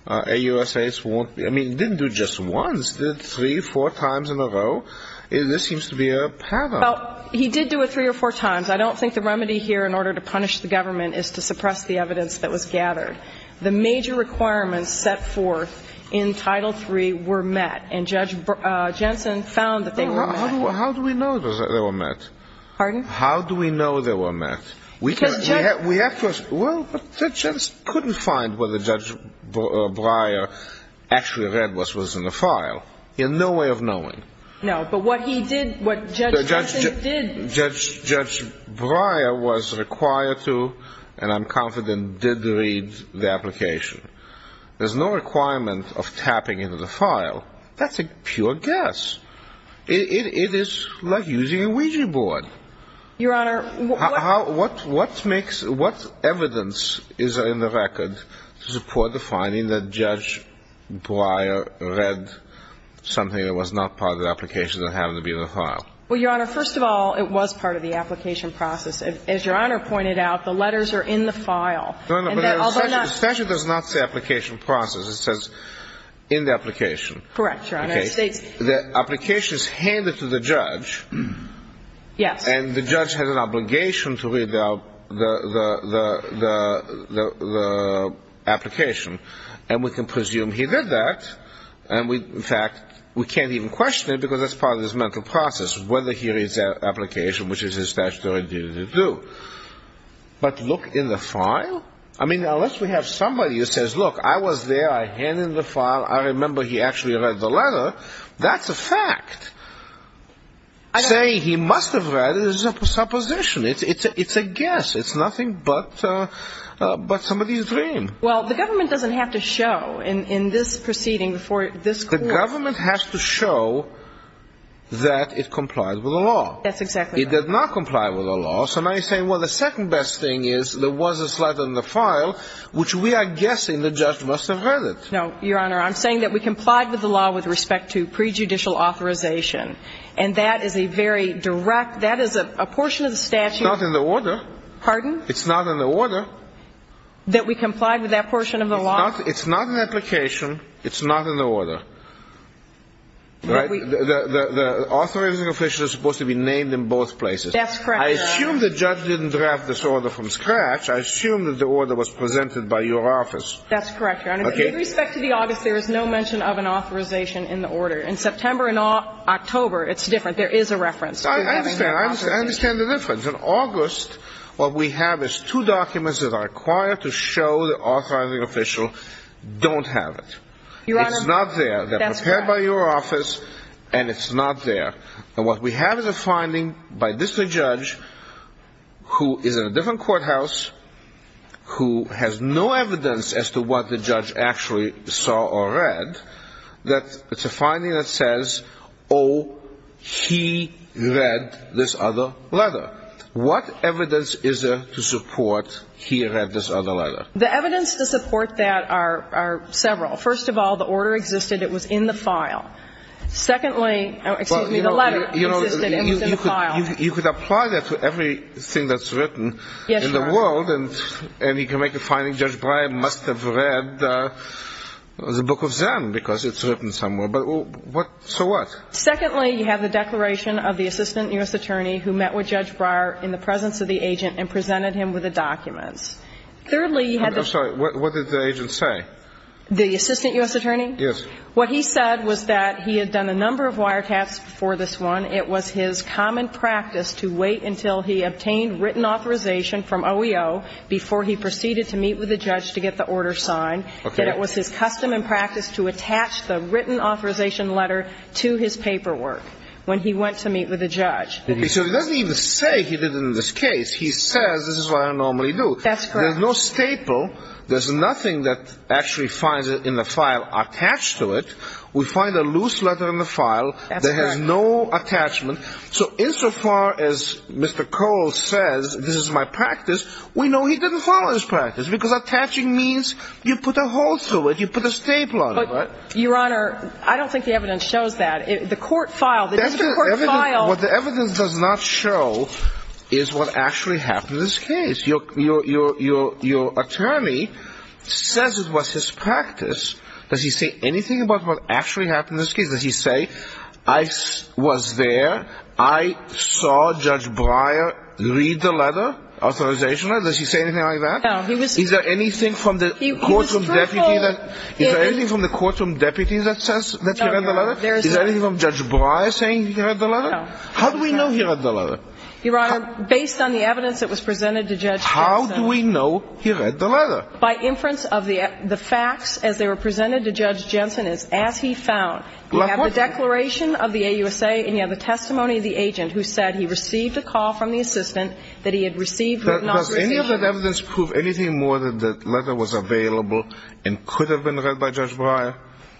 AUSA won't be I mean, he didn't do it just once. He did it three or four times in a row. This seems to be a paradox. He did do it three or four times. I don't think the remedy here in order to punish the government is to suppress the evidence that was gathered. The major requirements set forth in Title III were met, and Judge Jensen found that they were met. How do we know that they were met? Pardon? How do we know they were met? Well, Judge Jensen couldn't find whether Judge Breyer actually read what was in the file. In no way of knowing. No, but what he did, what Judge Jensen did Judge Breyer was required to, and I'm confident did read the application. There's no requirement of tapping into the file. That's a pure guess. It is like using a Ouija board. Your Honor, what What makes, what evidence is in the record to support the finding that Judge Breyer read something that was not part of the application that happened to be in the file? Well, Your Honor, first of all, it was part of the application process. As Your Honor pointed out, the letters are in the file. No, no, but the statute does not say application process. It says in the application. Correct, Your Honor. Okay, the application is handed to the judge. Yes. And the judge has an obligation to read the application. And we can presume he did that. In fact, we can't even question it because that's part of his mental process, whether he read that application, which is his statutory duty to do. But look in the file? I mean, unless we have somebody who says, look, I was there, I handed the file, I remember he actually read the letter, that's a fact. Saying he must have read it is a supposition. It's a guess. It's nothing but somebody's dream. Well, the government doesn't have to show in this proceeding for this court. The government has to show that it complies with the law. That's exactly right. It does not comply with the law. So now you're saying, well, the second best thing is there was this letter in the file, which we are guessing the judge must have read it. No, Your Honor, I'm saying that we complied with the law with respect to prejudicial authorization. And that is a very direct, that is a portion of the statute. It's not in the order. Pardon? It's not in the order. That we complied with that portion of the law? It's not in the application. It's not in the order. The authorizing official is supposed to be named in both places. That's correct, Your Honor. I assume the judge didn't draft this order from scratch. I assume that the order was presented by your office. That's correct, Your Honor. With respect to the August, there is no mention of an authorization in the order. In September and October, it's different. There is a reference. I understand the difference. In August, what we have is two documents that are required to show the authorizing official don't have it. It's not there. They're prepared by your office, and it's not there. And what we have is a finding by this judge, who is in a different courthouse, who has no evidence as to what the judge actually saw or read, that it's a finding that says, oh, he read this other letter. What evidence is there to support he read this other letter? The evidence to support that are several. First of all, the order existed. It was in the file. Secondly, excuse me, the letter existed. It was in the file. You could apply that to everything that's written in the world, and you can make the finding Judge Breyer must have read the book of Zen because it's written somewhere. So what? Secondly, you have the declaration of the assistant U.S. attorney who met with Judge Breyer in the presence of the agent and presented him with the documents. Thirdly, you have the- I'm sorry. What did the agent say? The assistant U.S. attorney? Yes. What he said was that he had done a number of wiretaps for this one. It was his common practice to wait until he obtained written authorization from OEO before he proceeded to meet with the judge to get the order signed, that it was his custom and practice to attach the written authorization letter to his paperwork when he went to meet with the judge. So he doesn't even say he did it in this case. That's correct. There's no staple. There's nothing that actually finds in the file attached to it. We find a loose letter in the file that has no attachment. So insofar as Mr. Cole says this is my practice, we know he didn't follow his practice because attaching means you put a hole through it, you put a staple on it. But, Your Honor, I don't think the evidence shows that. The court filed- The evidence does not show is what actually happened in this case. Your attorney says it was his practice. Does he say anything about what actually happened in this case? Does he say, I was there, I saw Judge Breyer read the letter, authorization letter? Does he say anything like that? No. Is there anything from the courtroom deputy that says that he read the letter? Is there anything from Judge Breyer saying he read the letter? No. How do we know he read the letter? Your Honor, based on the evidence that was presented to Judge Jensen- How do we know he read the letter? By inference of the facts as they were presented to Judge Jensen is as he found. He had the declaration of the AUSA and he had the testimony of the agent who said he received a call from the assistant that he had received- Does any of the evidence prove anything more than the letter was available and could have been read by Judge Breyer?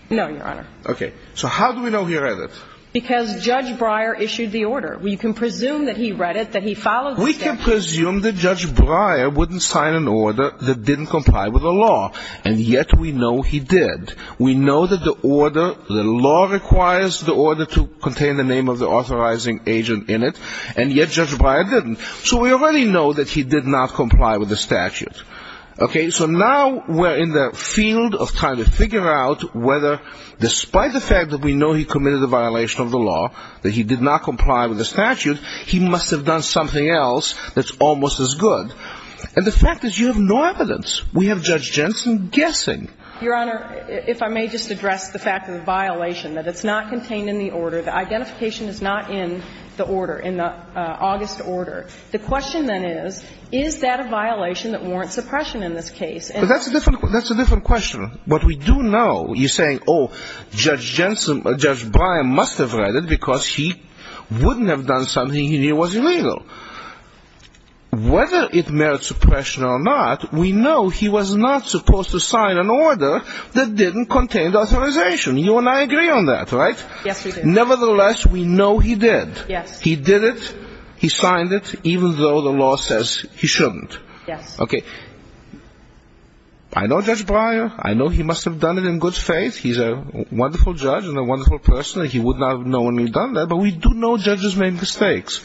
No, Your Honor. Okay. So how do we know he read it? Because Judge Breyer issued the order. We can presume that he read it, that he followed the statute. We can presume that Judge Breyer wouldn't sign an order that didn't comply with the law, and yet we know he did. We know that the order, the law requires the order to contain the name of the authorizing agent in it, and yet Judge Breyer didn't. So we already know that he did not comply with the statute. Okay. So now we're in the field of trying to figure out whether, despite the fact that we know he committed a violation of the law, that he did not comply with the statute, he must have done something else that's almost as good. And the fact is you have no evidence. We have Judge Jensen guessing. Your Honor, if I may just address the fact of the violation, that it's not contained in the order, the identification is not in the order, in the August order. The question then is, is that a violation that warrants suppression in this case? That's a different question. Your Honor, what we do know, you're saying, oh, Judge Jensen, Judge Breyer must have read it because he wouldn't have done something if he was illegal. Whether it merits suppression or not, we know he was not supposed to sign an order that didn't contain the authorization. You and I agree on that, right? Yes, we do. Nevertheless, we know he did. He did it. He signed it, even though the law says he shouldn't. Yes. Okay. I know Judge Breyer. I know he must have done it in good faith. He's a wonderful judge and a wonderful person. He wouldn't have known he'd done that. But we do know judges make mistakes.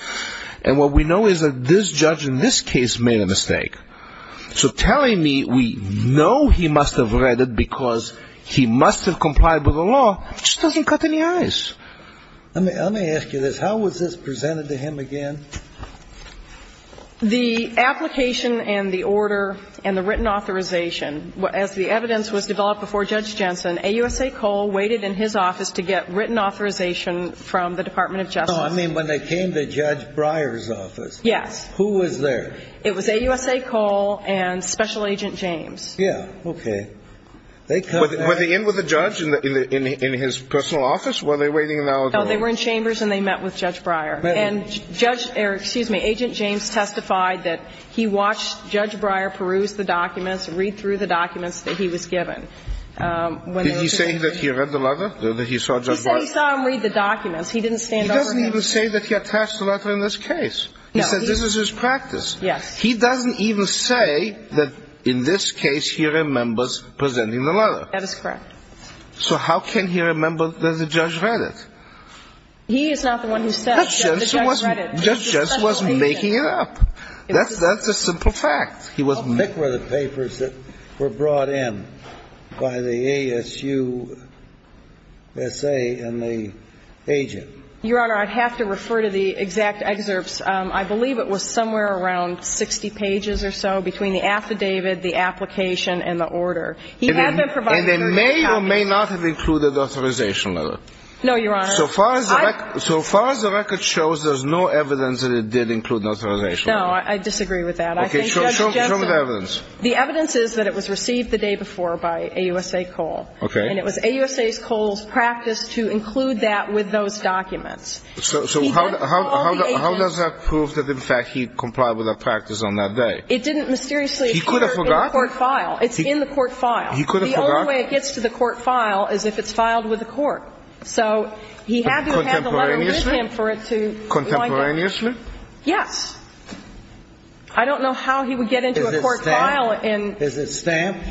And what we know is that this judge in this case made a mistake. So telling me we know he must have read it because he must have complied with the law just doesn't cut any ice. Let me ask you this. How was this presented to him again? The application and the order and the written authorization, as the evidence was developed before Judge Jensen, AUSA Cole waited in his office to get written authorization from the Department of Justice. I mean, when they came to Judge Breyer's office. Yes. Who was there? It was AUSA Cole and Special Agent James. Yes. Okay. Were they in with the judge in his personal office? Were they waiting in the auditorium? No, they were in chambers and they met with Judge Breyer. And Agent James testified that he watched Judge Breyer peruse the documents, read through the documents that he was given. Did he say that he read the letter that he saw Judge Breyer? He saw him read the documents. He didn't stand over him. He doesn't even say that he had passed the letter in this case. No. He said this is his practice. Yes. He doesn't even say that in this case he remembers presenting the letter. That is correct. So how can he remember that the judge read it? He is not the one who said that the judge read it. The judge wasn't making it up. That's a simple fact. He wasn't making it up. What were the papers that were brought in by the ASUSA and the agent? Your Honor, I'd have to refer to the exact excerpts. I believe it was somewhere around 60 pages or so between the affidavit, the application, and the order. And they may or may not have included the authorization letter. No, Your Honor. So far as the record shows, there's no evidence that it did include an authorization letter. No, I disagree with that. Okay. Show me the evidence. The evidence is that it was received the day before by AUSA Cole. Okay. And it was AUSA Cole's practice to include that with those documents. So how does that prove that, in fact, he complied with that practice on that day? It didn't mysteriously appear in the court file. It's in the court file. The only way it gets to the court file is if it's filed with the court. So he hasn't had a letter with him for it to be like this. Contemporaneously? Yes. I don't know how he would get into a court file. Is it stamped?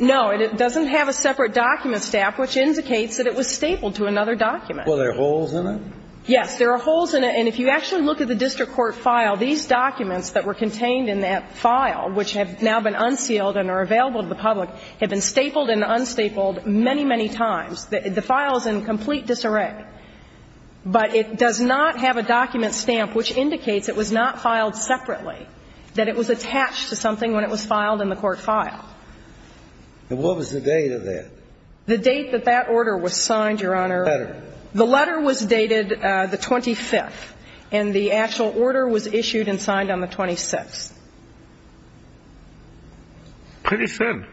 No. It doesn't have a separate document stamp, which indicates that it was stapled to another document. Were there holes in it? Yes. There are holes in it. And if you actually look at the district court file, these documents that were contained in that file, which have now been unsealed and are available to the public, have been stapled and unstapled many, many times. The file is in complete disarray. But it does not have a document stamp, which indicates it was not filed separately, that it was attached to something when it was filed in the court file. And what was the date of that? The date that that order was signed, Your Honor. The letter? The letter was dated the 25th, and the actual order was issued and signed on the 26th. Pretty thin.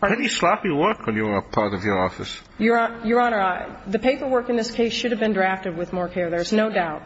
Pretty sloppy work when you were part of your office. Your Honor, the paperwork in this case should have been drafted with more care, there's no doubt.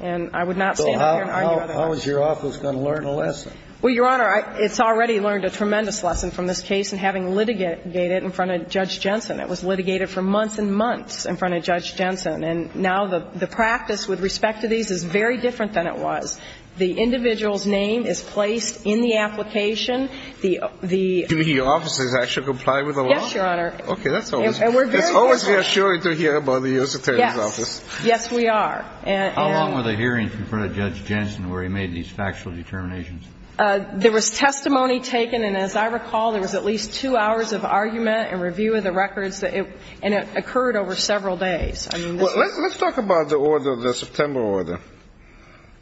And I would not stand up here and argue about it. Well, how is your office going to learn a lesson? Well, Your Honor, it's already learned a tremendous lesson from this case in having litigated in front of Judge Jensen. It was litigated for months and months in front of Judge Jensen. And now the practice with respect to these is very different than it was. The individual's name is placed in the application. The office has actually complied with the law? Yes, Your Honor. Okay, that's always reassuring to hear about the U.S. Appellate Office. Yes, we are. How long were the hearings in front of Judge Jensen where he made these factual determinations? There was testimony taken, and as I recall, there was at least two hours of argument and review of the records, and it occurred over several days. Let's talk about the order, the September order,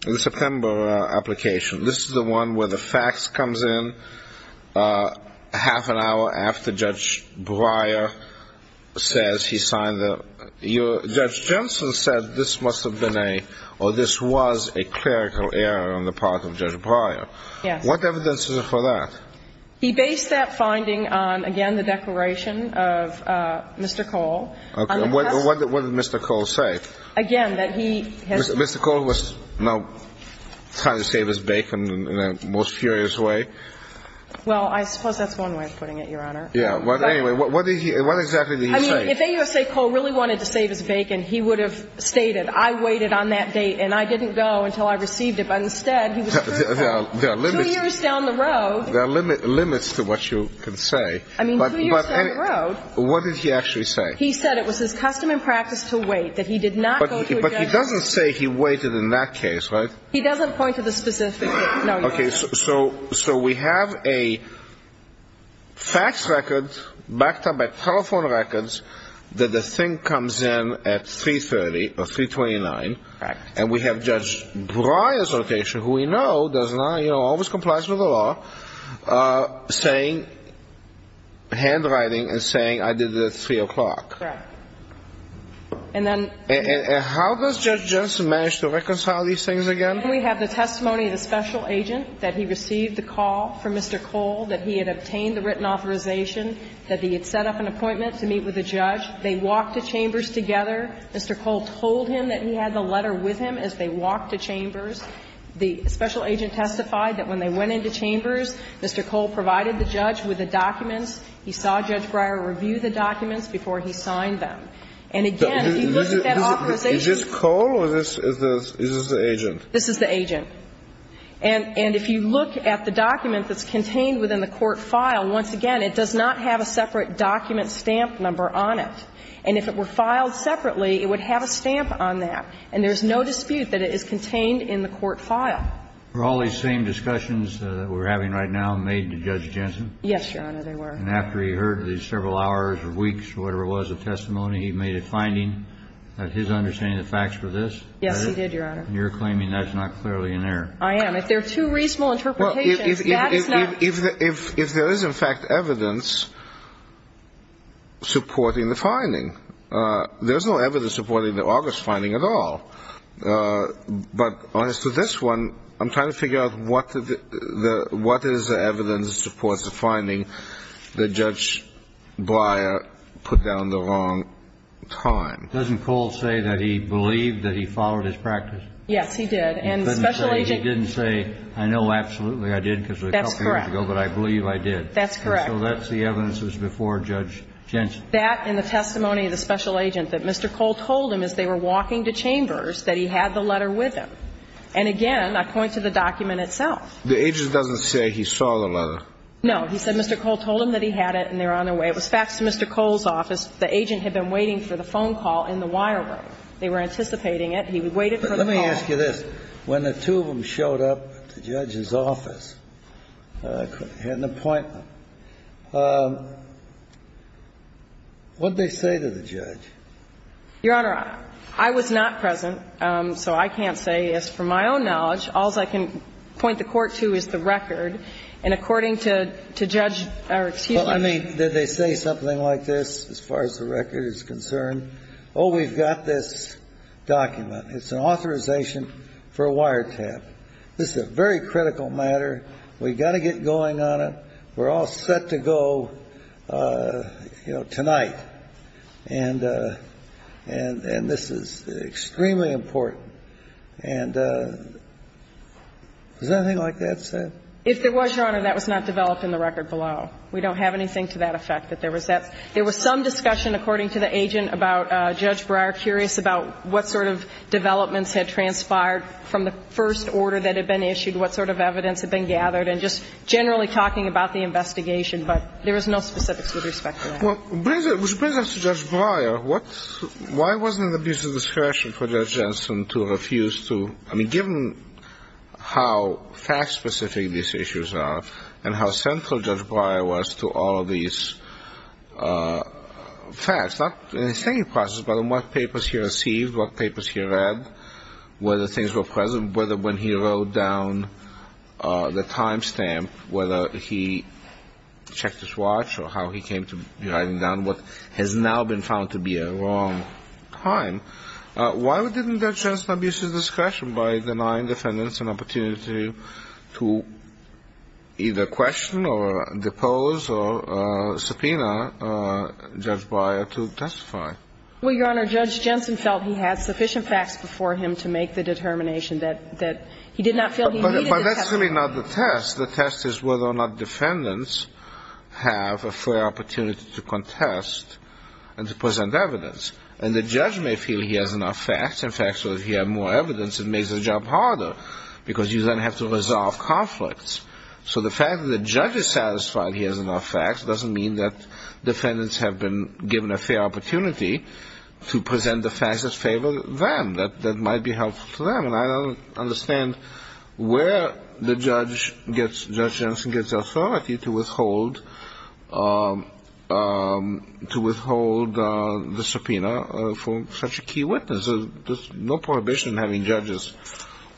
the September application. This is the one where the facts comes in half an hour after Judge Breyer says he signed the... Judge Jensen said this must have been a, or this was a clerical error on the part of Judge Breyer. Yes. What evidence is there for that? He based that finding on, again, the declaration of Mr. Cole. Okay, and what did Mr. Cole say? Mr. Cole was now trying to save his bait in the most furious way? Well, I suppose that's one way of putting it, Your Honor. Anyway, what exactly did he say? I mean, if AUSA Cole really wanted to save his bait, and he would have stated, I waited on that bait, and I didn't go until I received it. But instead, he was certain about it. Two years down the road... There are limits to what you can say. I mean, two years down the road... What did he actually say? He said it was his custom and practice to wait, that he did not go to... But he doesn't say he waited in that case, right? He doesn't point to the statistics. Okay, so we have a fax record, backed up by telephone records, that the thing comes in at 3.30 or 3.29, and we have Judge Breyer's location, who we know does not, you know, And then... How does Judge Johnson manage to reconcile these things again? We have the testimony of the special agent, that he received the call from Mr. Cole, that he had obtained the written authorization, that he had set up an appointment to meet with the judge. They walked the chambers together. Mr. Cole told him that he had the letter with him as they walked the chambers. The special agent testified that when they went into chambers, Mr. Cole provided the judge with the documents. He saw Judge Breyer review the documents before he signed them. And again, if you look at that authorization... Is this Cole or is this the agent? This is the agent. And if you look at the documents that's contained within the court file, once again, it does not have a separate document stamp number on it. And if it were filed separately, it would have a stamp on that. And there's no dispute that it is contained in the court file. Were all these same discussions that we're having right now made to Judge Johnson? Yes, Your Honor, they were. And after he heard these several hours or weeks or whatever it was of testimony, he made a finding that he's understanding the facts for this? Yeah, he did, Your Honor. And you're claiming that's not clearly in there? I am. If there are two reasonable interpretations, that is not... If there is, in fact, evidence supporting the finding. There's no evidence supporting the August finding at all. But as for this one, I'm trying to figure out what is the evidence supporting the finding that Judge Bleier put down the wrong time. Doesn't Cole say that he believed that he followed his practice? Yes, he did. He didn't say, I know absolutely I did because it was a couple of years ago, but I believe I did. That's correct. So that's the evidence that was before Judge Johnson. That and the testimony of the special agent that Mr. Cole told him as they were walking to chambers that he had the letter with him. And again, I point to the document itself. The agent doesn't say he saw the letter? No, he said Mr. Cole told him that he had it and they're on their way. It was faxed to Mr. Cole's office. The agent had been waiting for the phone call in the wire room. They were anticipating it. He waited for the call. Let me ask you this. When the two of them showed up at the judge's office, had an appointment, what did they say to the judge? Your Honor, I was not present, so I can't say. As for my own knowledge, all I can point the court to is the record, and according to Judge Aracutia. Did they say something like this as far as the record is concerned? Oh, we've got this document. It's an authorization for a wiretap. This is a very critical matter. We've got to get going on it. We're all set to go tonight. And this is extremely important. And was there anything like that said? If there was, Your Honor, that was not developed in the record below. We don't have anything to that effect. There was some discussion, according to the agent, about Judge Breyer, curious about what sort of developments had transpired from the first order that had been issued, what sort of evidence had been gathered, and just generally talking about the investigation. But there is no specifics with respect to that. Well, which brings us to Judge Breyer. Why wasn't there an abuse of discretion for Judge Jensen to refuse to— I mean, given how fact-specific these issues are and how central Judge Breyer was to all of these facts, not in his thinking process, but in what papers he received, what papers he read, whether things were present, whether when he wrote down the timestamp, whether he checked his watch or how he came to writing down what has now been found to be a wrong time, why didn't Judge Jensen abuse his discretion by denying defendants an opportunity to either question or depose or subpoena Judge Breyer to testify? Well, Your Honor, Judge Jensen felt he had sufficient facts before him But that's really not the test. The test is whether or not defendants have a fair opportunity to contest and to present evidence. And the judge may feel he has enough facts, in fact, so if he had more evidence, it makes the job harder because you then have to resolve conflicts. So the fact that the judge is satisfied he has enough facts doesn't mean that defendants have been given a fair opportunity to present the facts that favor them, that might be helpful to them. And I don't understand where Judge Jensen gets the authority to withhold the subpoena from such a key witness. There's no prohibition in having judges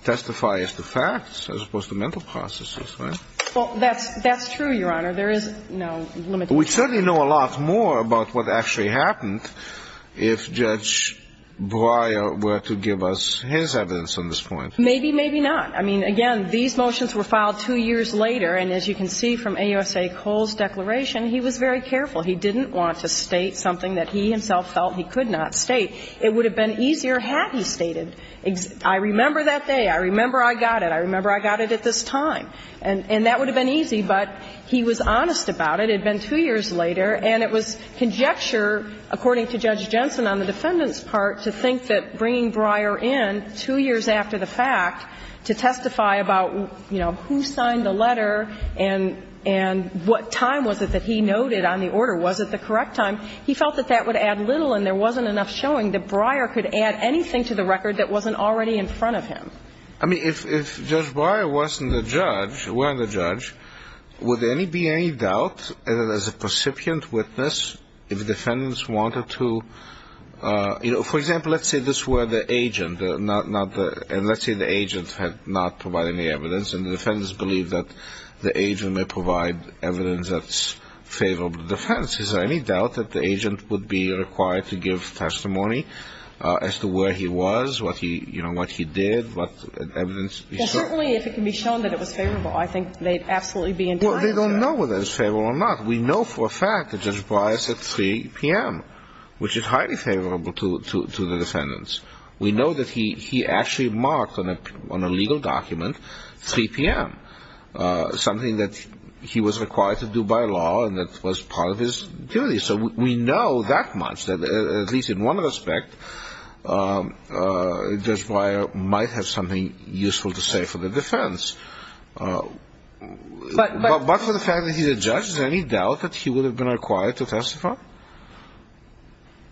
testify as to facts as opposed to mental processes, right? Well, that's true, Your Honor. There is no limitation. We certainly know a lot more about what actually happened if Judge Breyer were to give us his evidence on this point. Maybe, maybe not. I mean, again, these motions were filed two years later, and as you can see from AUSA Cole's declaration, he was very careful. He didn't want to state something that he himself felt he could not state. It would have been easier had he stated, I remember that day, I remember I got it, I remember I got it at this time. And that would have been easy, but he was honest about it. And it was conjecture, according to Judge Jensen on the defendant's part, to think that bringing Breyer in two years after the fact to testify about who signed the letter and what time was it that he noted on the order, was it the correct time, he felt that that would add little and there wasn't enough showing that Breyer could add anything to the record that wasn't already in front of him. I mean, if Judge Breyer wasn't the judge, would there be any doubt as a recipient with this if the defendants wanted to, you know, for example, let's say this were the agent, and let's say the agent had not provided any evidence, and the defendants believe that the agent may provide evidence that's favorable to defense. Is there any doubt that the agent would be required to give testimony as to where he was, what he did, what evidence he showed? Well, certainly if it can be shown that it was favorable, I think they'd absolutely be inclined to do that. Well, they don't know whether it was favorable or not. We know for a fact that Judge Breyer said 3 p.m., which is highly favorable to the defendants. We know that he actually marked on a legal document 3 p.m., something that he was required to do by law and that was part of his duty. So we know that much, at least in one respect, Judge Breyer might have something useful to say for the defense. But for the fact that he's a judge, is there any doubt that he would have been required to testify?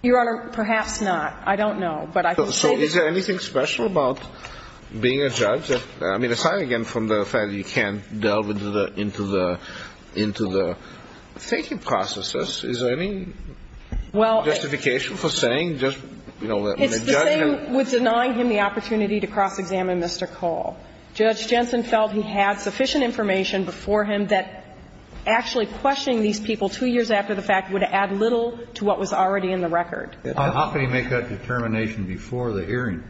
Your Honor, perhaps not. I don't know. So is there anything special about being a judge? I mean, aside again from the fact that you can't delve into the thinking processes, is there any justification for saying just, you know, that a judge can? The thing was denying him the opportunity to cross-examine Mr. Cole. Judge Jensen felt he had sufficient information before him that actually questioning these people 2 years after the fact would add little to what was already in the record. How could he make that determination before the hearing?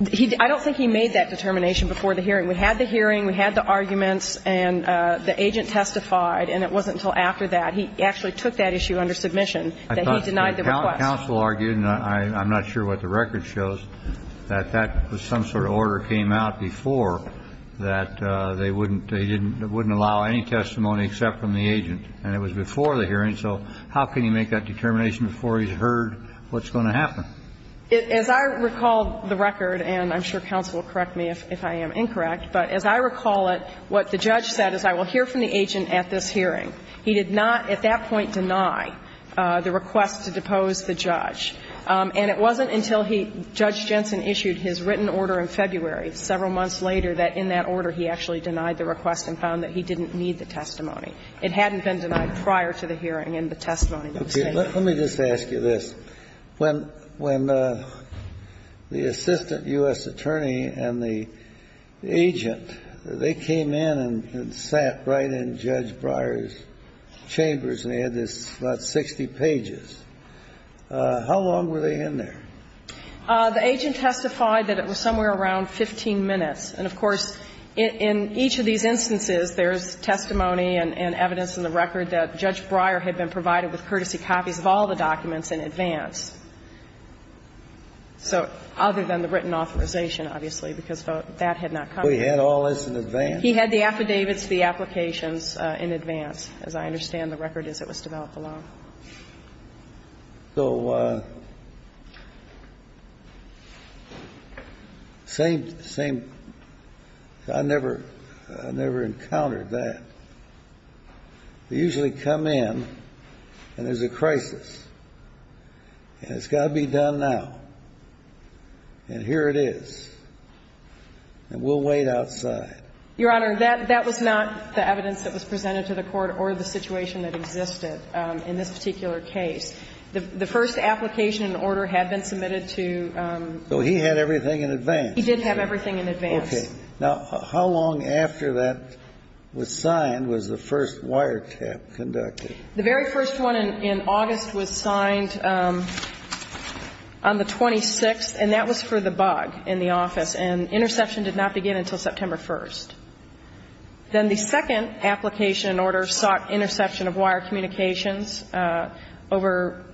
I don't think he made that determination before the hearing. We had the hearing, we had the arguments, and the agent testified, and it wasn't until after that he actually took that issue under submission that he denied the request. Counsel argued, and I'm not sure what the record shows, that that was some sort of order that came out before that they wouldn't allow any testimony except from the agent. And it was before the hearing, so how can he make that determination before he's heard what's going to happen? As I recall the record, and I'm sure counsel will correct me if I am incorrect, but as I recall it, what the judge said is, I will hear from the agent at this hearing. He did not at that point deny the request to depose the judge. And it wasn't until Judge Jensen issued his written order in February, several months later, that in that order he actually denied the request and found that he didn't need the testimony. It hadn't been denied prior to the hearing and the testimony. Let me just ask you this. When the assistant U.S. attorney and the agent, they came in and sat right in Judge Breyer's chambers, they had about 60 pages. How long were they in there? The agent testified that it was somewhere around 15 minutes. And, of course, in each of these instances there is testimony and evidence in the record that Judge Breyer had been provided with courtesy copies of all the documents in advance. So, other than the written authorization, obviously, because that had not come in. He had all this in advance? He had the affidavits, the applications in advance, as I understand the record is it was developed alone. So, same thing. I never encountered that. They usually come in and there's a crisis. And it's got to be done now. And here it is. And we'll wait outside. Your Honor, that was not the evidence that was presented to the court or the situation that existed in this particular case. The first application and order had been submitted to... So he had everything in advance? He did have everything in advance. Okay. Now, how long after that was signed was the first wire tap conducted? The very first one in August was signed on the 26th. And that was for the bug in the office. And interception did not begin until September 1st. Then the second application and order sought interception of wire communications over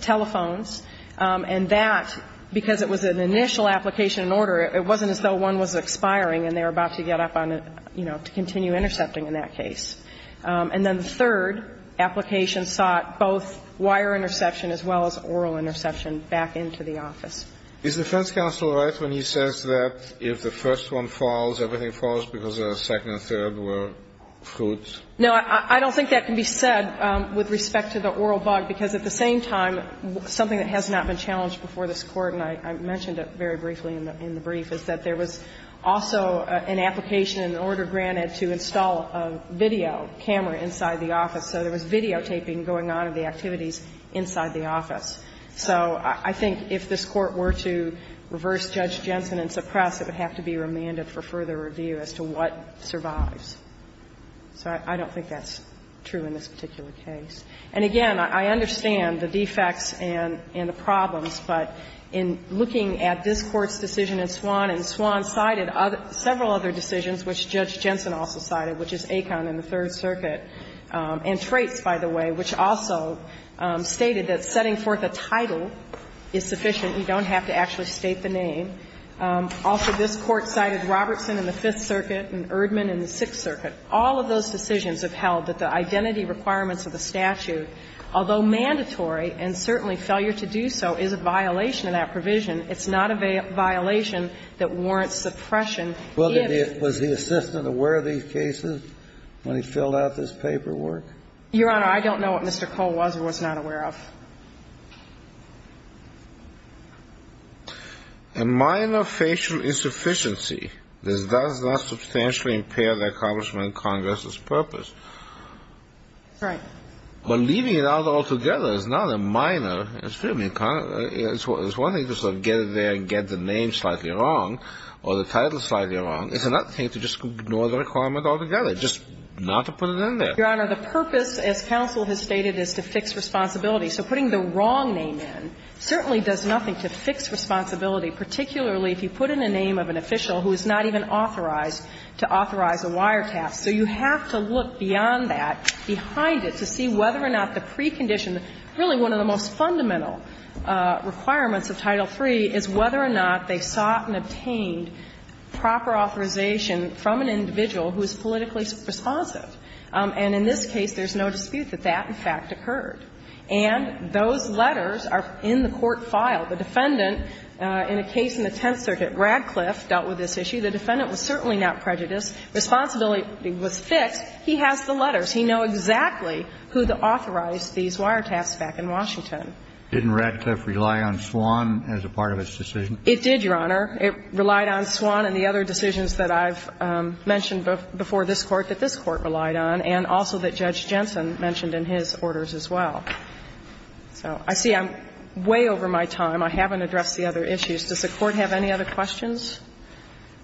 telephones. And that, because it was an initial application and order, it wasn't until one was expiring and they were about to get up to continue intercepting in that case. And then the third application sought both wire interception as well as oral interception back into the office. Is the defense counsel right when he says that if the first one falls, everything falls because the second and third were fruits? No, I don't think that can be said with respect to the oral bug because at the same time, something that has not been challenged before this court, and I mentioned it very briefly in the brief, is that there was also an application and order granted to install a video camera inside the office. So there was videotaping going on in the activities inside the office. So I think if this court were to reverse Judge Jensen and suppress, it would have to be remanded for further review as to what survives. So I don't think that's true in this particular case. And, again, I understand the defects and the problems, but in looking at this court's decision in Swan, and Swan cited several other decisions, which Judge Jensen also cited, which is Aikon in the Third Circuit, and Trait, by the way, which also stated that setting forth a title is sufficient. You don't have to actually state the name. Also, this court cited Robertson in the Fifth Circuit and Erdmann in the Sixth Circuit. All of those decisions have held that the identity requirements of the statute, although mandatory, and certainly failure to do so, is a violation of that provision. It's not a violation that warrants suppression. Was the assistant aware of these cases when he filled out this paperwork? Your Honor, I don't know what Mr. Cole was or was not aware of. A minor facial insufficiency. This does not substantially impair the accomplishment of Congress's purpose. Correct. Well, leaving it out altogether is not a minor. It's one thing to sort of get it there and get the name slightly wrong or the title slightly wrong. It's another thing to just ignore the requirements altogether, just not to put it in there. Your Honor, the purpose, as counsel has stated, is to fix responsibility. So putting the wrong name in certainly does nothing to fix responsibility, particularly if you put in the name of an official who is not even authorized to authorize a wiretap. So you have to look beyond that, behind it, to see whether or not the precondition, really one of the most fundamental requirements of Title III, is whether or not they sought and obtained proper authorization from an individual who is politically responsive. And in this case, there's no dispute that that, in fact, occurred. And those letters are in the court file. The defendant, in a case in the Tenth Circuit, Radcliffe, dealt with this issue. The defendant was certainly not prejudiced. His responsibility was set. He has the letters. He knows exactly who authorized these wiretaps back in Washington. Didn't Radcliffe rely on Swann as a part of his decision? It did, Your Honor. It relied on Swann and the other decisions that I've mentioned before this Court that this Court relied on, and also that Judge Jensen mentioned in his orders as well. I see I'm way over my time. I haven't addressed the other issues. Does the Court have any other questions?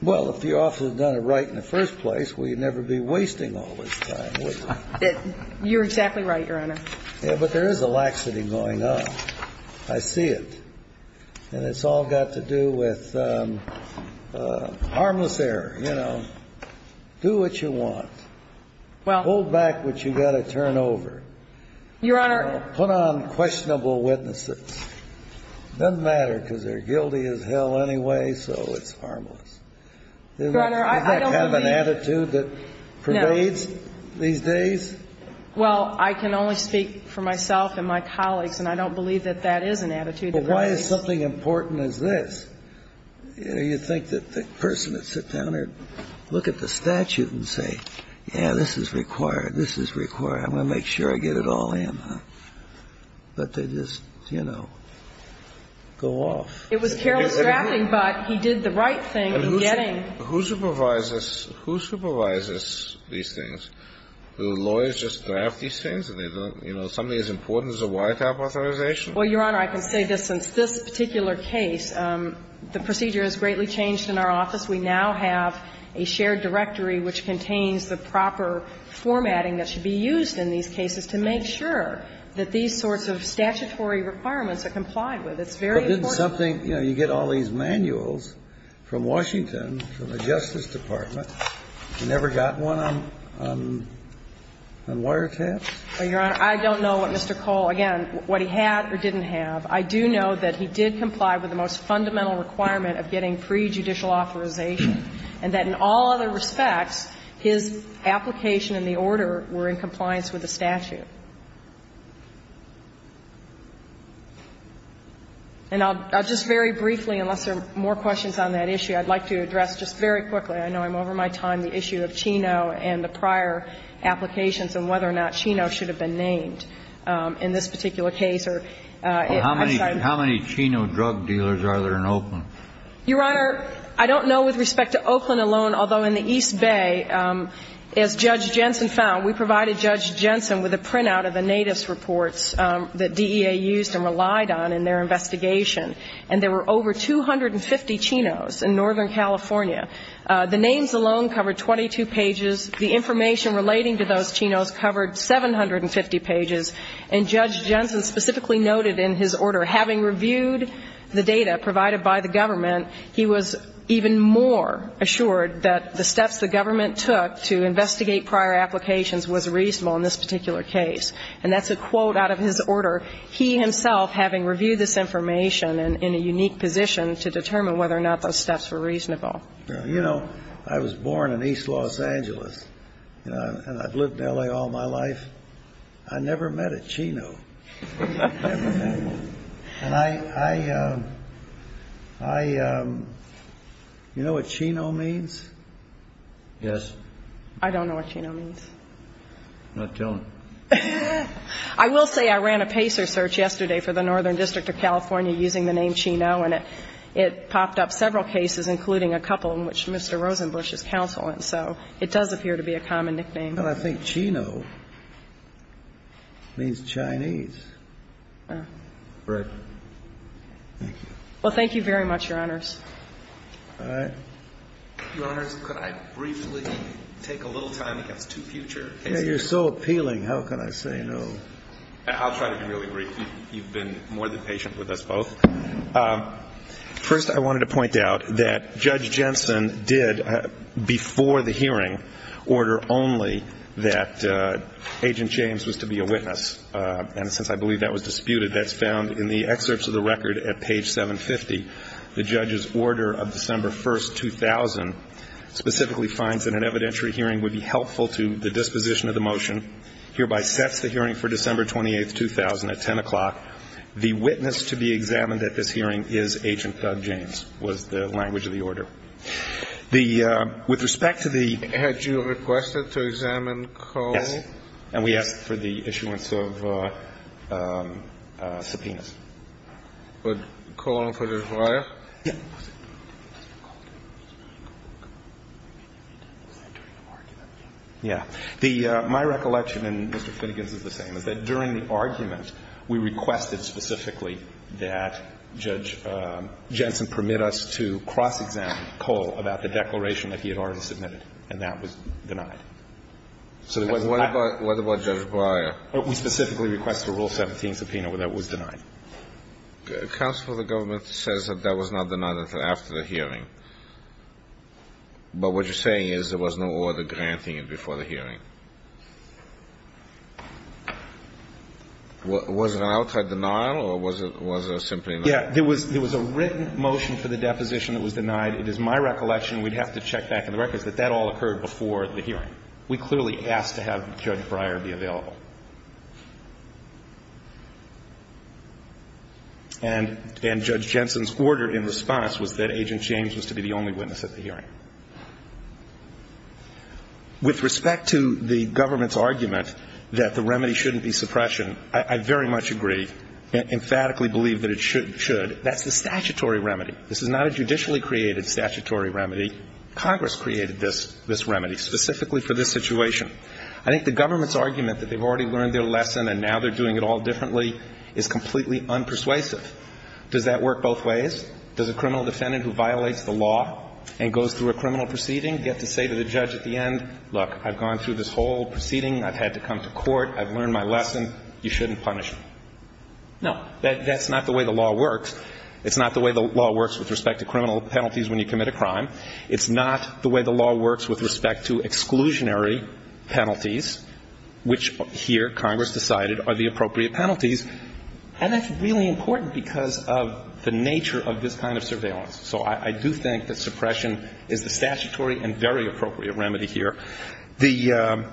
Well, if you also had done it right in the first place, we'd never be wasting all this time, would we? You're exactly right, Your Honor. Yeah, but there is a laxity going on. I see it. And it's all got to do with harmless error, you know. Do what you want. Hold back what you've got to turn over. Your Honor. Put on questionable witnesses. It doesn't matter because they're guilty as hell anyway, so it's harmless. Your Honor, I don't believe that. Do you have an attitude that pervades these days? Well, I can only speak for myself and my colleagues, and I don't believe that that is an attitude that pervades. But why is something important as this? You know, you'd think that the person would sit down or look at the statute and say, yeah, this is required, this is required, I'm going to make sure I get it all in. But they just, you know, go off. It was careless drafting, but he did the right thing in getting... Who supervises these things? Do lawyers just draft these things and they don't, you know, is something as important as a YFAP authorization? Well, Your Honor, I can say this in this particular case, the procedure has greatly changed in our office. We now have a shared directory which contains the proper formatting that should be used in these cases to make sure that these sorts of statutory requirements are complied with. It's very important. But isn't something, you know, you get all these manuals from Washington, from the Justice Department, you never got one on wiretaps? Well, Your Honor, I don't know what Mr. Cole, again, what he had or didn't have. I do know that he did comply with the most fundamental requirement of getting pre-judicial authorization, and that in all other respects, his application and the order were in compliance with the statute. And I'll just very briefly, unless there are more questions on that issue, I'd like to address just very quickly, I know I'm over my time, the issue of Chino and the prior applications and whether or not Chino should have been named in this particular case. How many Chino drug dealers are there in Oakland? Your Honor, I don't know with respect to Oakland alone, although in the East Bay, as Judge Jensen found, we provided Judge Jensen with a printout of the Natus reports that DEA used and relied on in their investigation, and there were over 250 Chinos in Northern California. The names alone covered 22 pages. The information relating to those Chinos covered 750 pages, and Judge Jensen specifically noted in his order, having reviewed the data provided by the government, he was even more assured that the steps the government took to investigate prior applications was reasonable in this particular case. And that's a quote out of his order, he himself having reviewed this information in a unique position to determine whether or not those steps were reasonable. You know, I was born in East Los Angeles, and I've lived in L.A. all my life. I never met a Chino. And I... I... You know what Chino means? Yes. I don't know what Chino means. I'm not telling. I will say I ran a PACER search yesterday for the Northern District of California using the name Chino, and it popped up several cases, including a couple in which Mr. Rosenbusch is counseling, so it does appear to be a common nickname. But I think Chino means Chinese. Right. Thank you. Well, thank you very much, Your Honors. All right. Your Honors, could I briefly take a little time to get to future... Yeah, you're so appealing, how can I say no? I'll try to be really brief. You've been more than patient with us both. First, I wanted to point out that Judge Jensen did, before the hearing, order only that Agent James was to be a witness, and since I believe that was disputed, that's found in the excerpts of the record at page 750. The judge's order of December 1, 2000, specifically finds that an evidentiary hearing would be helpful to the disposition of the motion, hereby sets the hearing for December 28, 2000 at 10 o'clock. The witness to be examined at this hearing is Agent James, was the language of the order. With respect to the... Had you requested to examine Cole? Yeah, and we asked for the issuance of subpoenas. But Cole and Fedez-Reyes? Yeah. My recollection, and Mr. Finnegan's is the same, is that during the argument, we requested specifically that Judge Jensen permit us to cross-examine Cole about the declaration that he had already submitted, and that was denied. So what about Judge Breyer? We specifically requested a Rule 17 subpoena, and that was denied. Counsel for the government says that that was not denied after the hearing. But what you're saying is there was no order granting it before the hearing. Was it an outside denial, or was it simply... Yeah, there was a written motion for the deposition that was denied. It is my recollection, and we'd have to check back in the records, that that all occurred before the hearing. We clearly asked to have Judge Breyer be available. And Judge Jensen's order in response was that Agent James was to be the only witness at the hearing. With respect to the government's argument that the remedy shouldn't be suppression, I very much agree, and emphatically believe that it should. That's a statutory remedy. This is not a judicially-created statutory remedy. Congress created this remedy specifically for this situation. I think the government's argument that they've already learned their lesson and now they're doing it all differently is completely unpersuasive. Does that work both ways? Does a criminal defendant who violates the law and goes through a criminal proceeding get to say to the judge at the end, look, I've gone through this whole proceeding, I've had to come to court, I've learned my lesson, you shouldn't punish me. No, that's not the way the law works. It's not the way the law works with respect to criminal penalties when you commit a crime. It's not the way the law works with respect to exclusionary penalties, which here, Congress decided, are the appropriate penalties. And that's really important because of the nature of this kind of surveillance. So I do think that suppression is a statutory and very appropriate remedy here. The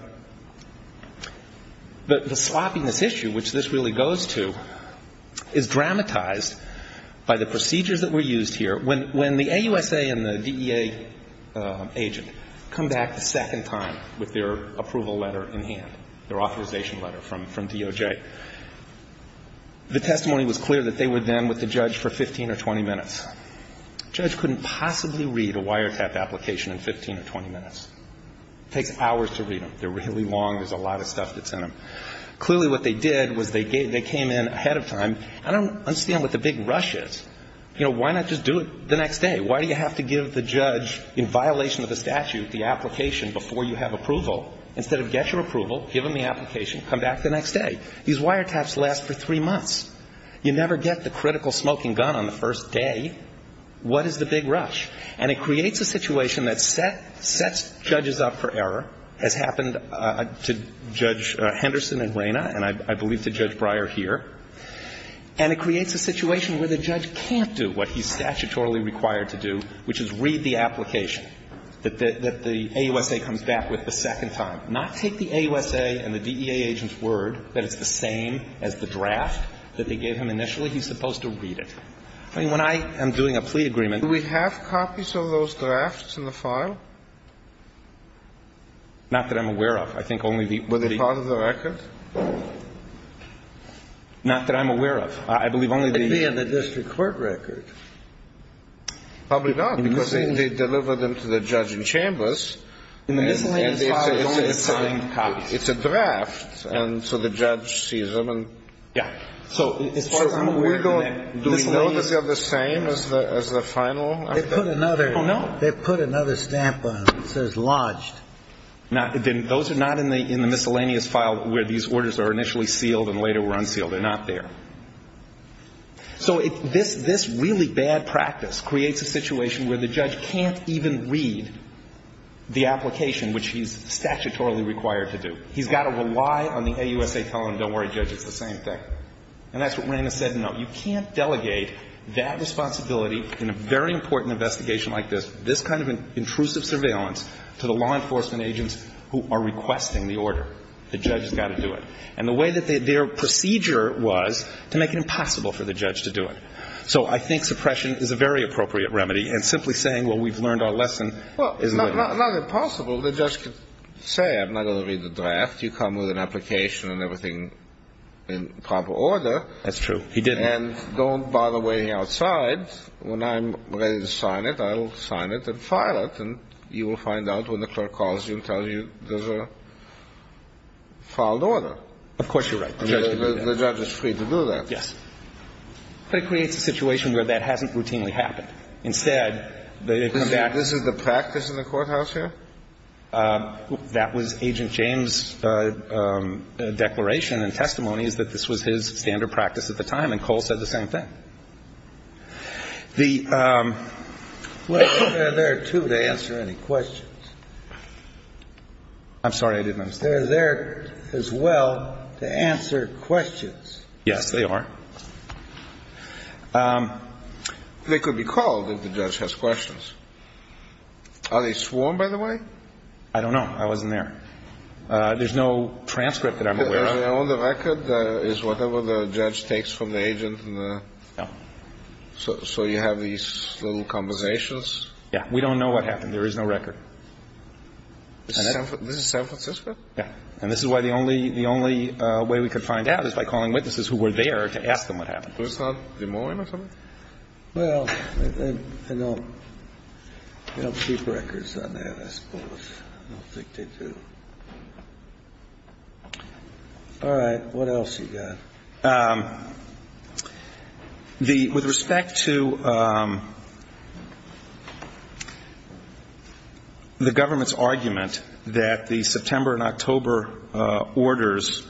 sloppiness issue, which this really goes to, is dramatized by the procedures that were used here. When the AUSA and the DEA agent come back a second time with their approval letter in hand, their authorization letter from DOJ, the testimony was clear that they were then with the judge for 15 or 20 minutes. The judge couldn't possibly read a wiretap application in 15 or 20 minutes. It takes hours to read them. They're really long. There's a lot of stuff that's in them. Clearly what they did was they came in ahead of time. I don't understand what the big rush is. Why not just do it the next day? Why do you have to give the judge, in violation of the statutes, the application before you have approval? Instead of get your approval, give them the application, come back the next day. These wiretaps last for three months. You never get the critical smoking gun on the first day. What is the big rush? It creates a situation that sets judges up for error. It has happened to Judge Henderson and Reyna, and I believe to Judge Breyer here. It creates a situation where the judge can't do what he's statutorily required to do, which is read the application that the AUSA comes back with the second time. Not take the AUSA and the DEA agent's word that it's the same as the draft that they gave him initially. He's supposed to read it. When I am doing a plea agreement, do we have copies of those drafts in the file? Not that I'm aware of. Would it be part of the record? Not that I'm aware of. I believe only the... Could be in the district court record. Probably not, because they deliver them to the judge in Chambers. It's a draft, and so the judge sees them and... Yeah. Do we know that they're the same as the final? They put another stamp on it that says lodged. Those are not in the miscellaneous file where these orders are initially sealed and later were unsealed. They're not there. So this really bad practice creates a situation where the judge can't even read the application, which he's statutorily required to do. He's got to rely on the AUSA telling him, I'm sorry, judge, it's the same thing. And that's what Rina said. No, you can't delegate that responsibility in a very important investigation like this, this kind of intrusive surveillance to the law enforcement agents who are requesting the order. The judge has got to do it. And the way that their procedure was to make it impossible for the judge to do it. So I think suppression is a very appropriate remedy and simply saying, well, we've learned our lesson. Well, it's not impossible. The judge could say, I'm not going to read the draft. You come with an application and everything in proper order. That's true. He didn't. And don't bother waiting outside. When I'm ready to sign it, I will sign it and file it. And you will find out when the clerk calls you and tells you there's a filed order. Of course you're right. The judge is free to do that. Yes. But it creates a situation where that hasn't routinely happened. Instead... This is the practice in the courthouse here? That was Agent James' declaration and testimony that this was his standard practice at the time, and Cole said the same thing. The... Well, they're there, too, to answer any questions. I'm sorry, I didn't understand. They're there, as well, to answer questions. Yes, they are. They could be called if the judge has questions. Are they sworn, by the way? I don't know. I wasn't there. There's no transcript that I'm aware of. The only record is whatever the judge takes from the agent. So you have these little conversations. Yes. We don't know what happened. There is no record. This is San Francisco? Yes. And this is why the only way we could find out is by calling witnesses who were there to ask them what happened. First off, do you know him or something? Well, I don't keep records on that, I suppose. I'll take tape, too. All right. What else you got? With respect to the government's argument that the September and October orders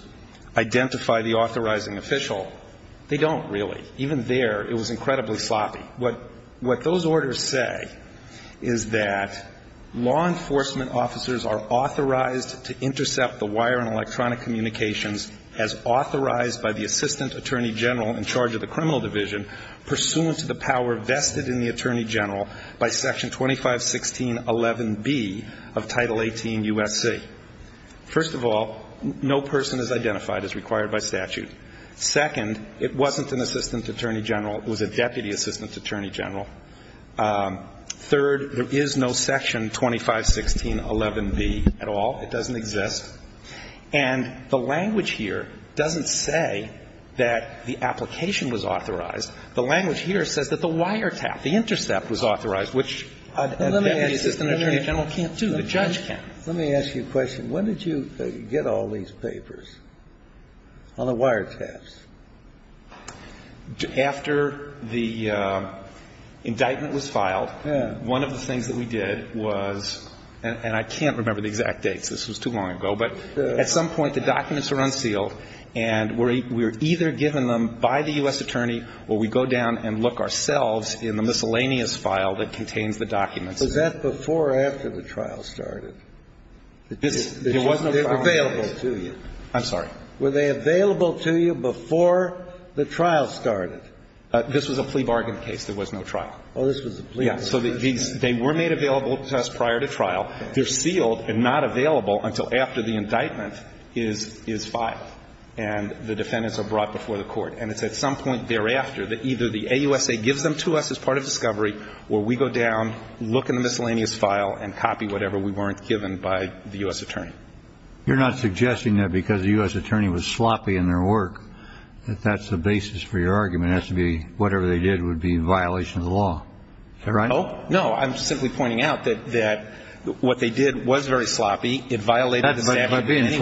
identify the authorizing official, they don't, really. Even there, it was incredibly sloppy. What those orders say is that law enforcement officers are authorized to intercept the wire and electronic communications as authorized by the Assistant Attorney General in charge of the criminal division, pursuant to the power vested in the Attorney General by Section 2516.11b of Title 18 U.S.C. First of all, no person is identified as required by statute. Second, it wasn't an Assistant Attorney General. It was a Deputy Assistant Attorney General. Third, there is no Section 2516.11b at all. It doesn't exist. And the language here doesn't say that the application was authorized. The language here says that the wire tap, the intercept, was authorized, which, as the Assistant Attorney General can't do, the judge can't. Let me ask you a question. When did you get all these papers on the wire taps? After the indictment was filed, one of the things that we did was, and I can't remember the exact date, this was too long ago, but at some point the documents were unsealed and we were either given them by the U.S. Attorney or we go down and look ourselves in the miscellaneous file that contains the documents. Was that before or after the trial started? They were available to you. I'm sorry. Were they available to you before the trial started? This was a plea bargain case. There was no trial. Oh, this was a plea bargain case. Yeah, so they were made available to us prior to trial. They're sealed and not available until after the indictment is filed and the defendants are brought before the court. And it's at some point thereafter that either the AUSA gives them to us as part of discovery or we go down, look in the miscellaneous file and copy whatever we weren't given by the U.S. Attorney. You're not suggesting that because the U.S. Attorney was sloppy in their work that that's the basis for your argument. It has to be whatever they did would be in violation of the law. Is that right? No, I'm simply pointing out that what they did was very sloppy. It violated the statute of limitations.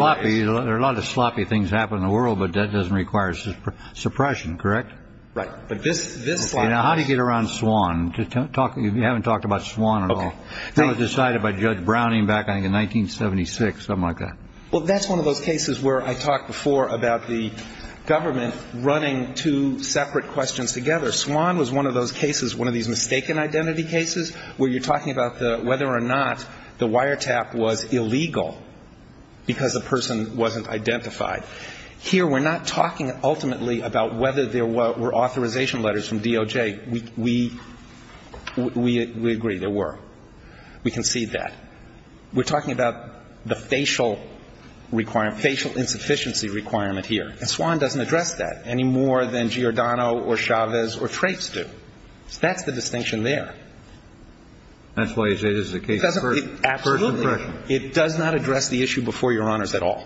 There are a lot of sloppy things that happen in the world, but that doesn't require suppression, correct? How do you get around SWAN? You haven't talked about SWAN at all. It was decided by Judge Browning back in 1976, something like that. Well, that's one of those cases where I talked before about the government running two separate questions together. SWAN was one of those cases, one of these mistaken identity cases, where you're talking about whether or not the wiretap was illegal because the person wasn't identified. Here we're not talking ultimately about whether there were authorization letters from DOJ. We agree, there were. We concede that. We're talking about the facial requirement, facial insufficiency requirement here. SWAN doesn't address that any more than Giordano or Chavez or Traits do. That's the distinction there. That's why you say this is a case of first impression. Absolutely. It does not address the issue before your honors at all.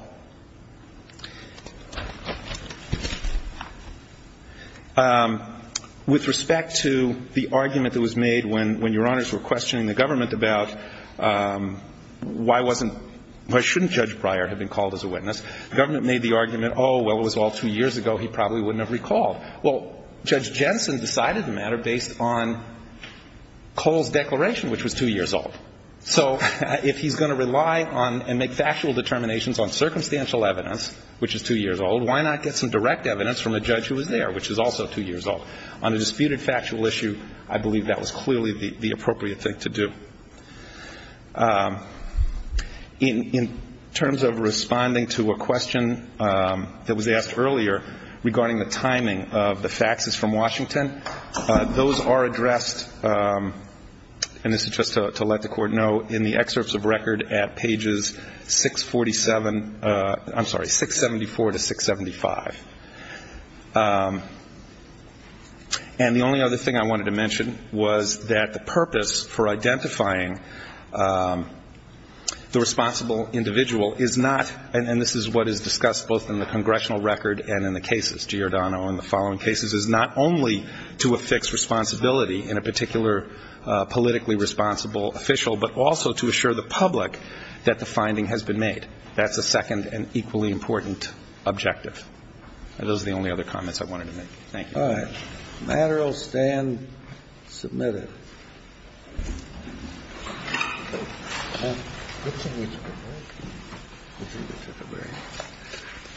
With respect to the argument that was made when your honors were questioning the government about why shouldn't Judge Breyer have been called as a witness, the government made the argument, oh, well, it was all two years ago, he probably wouldn't have recalled. Well, Judge Jensen decided the matter based on Cole's declaration, which was two years old. So if he's going to rely on and make factual determinations on circumstantial evidence, which is two years old, why not get some direct evidence from a judge who was there, which is also two years old? On a disputed factual issue, I believe that was clearly the appropriate thing to do. In terms of responding to a question that was asked earlier regarding the timing of the faxes from Washington, those are addressed, and this is just to let the Court know, in the excerpts of record at pages 647, I'm sorry, 674 to 675. And the only other thing I wanted to mention was that the purpose for identifying the responsible individual is not, and this is what is discussed both in the congressional record and in the cases, Giordano and the following cases, is not only to affix responsibility in a particular politically responsible official, but also to assure the public that the finding has been made. That's the second and equally important objective. And those are the only other comments I wanted to make. Thank you. All right. Matter will stand submitted.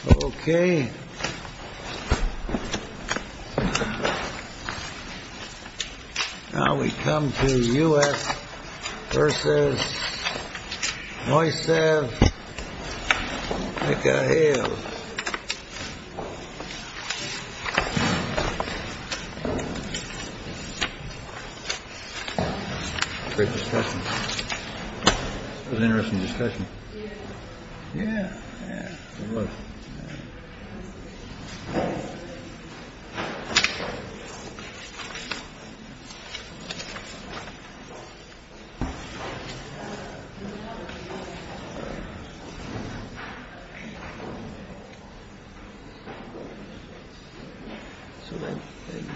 Okay. Okay. Now we come to U.S. versus Moises Ecahiel. Great discussion. It was an interesting discussion. Yeah.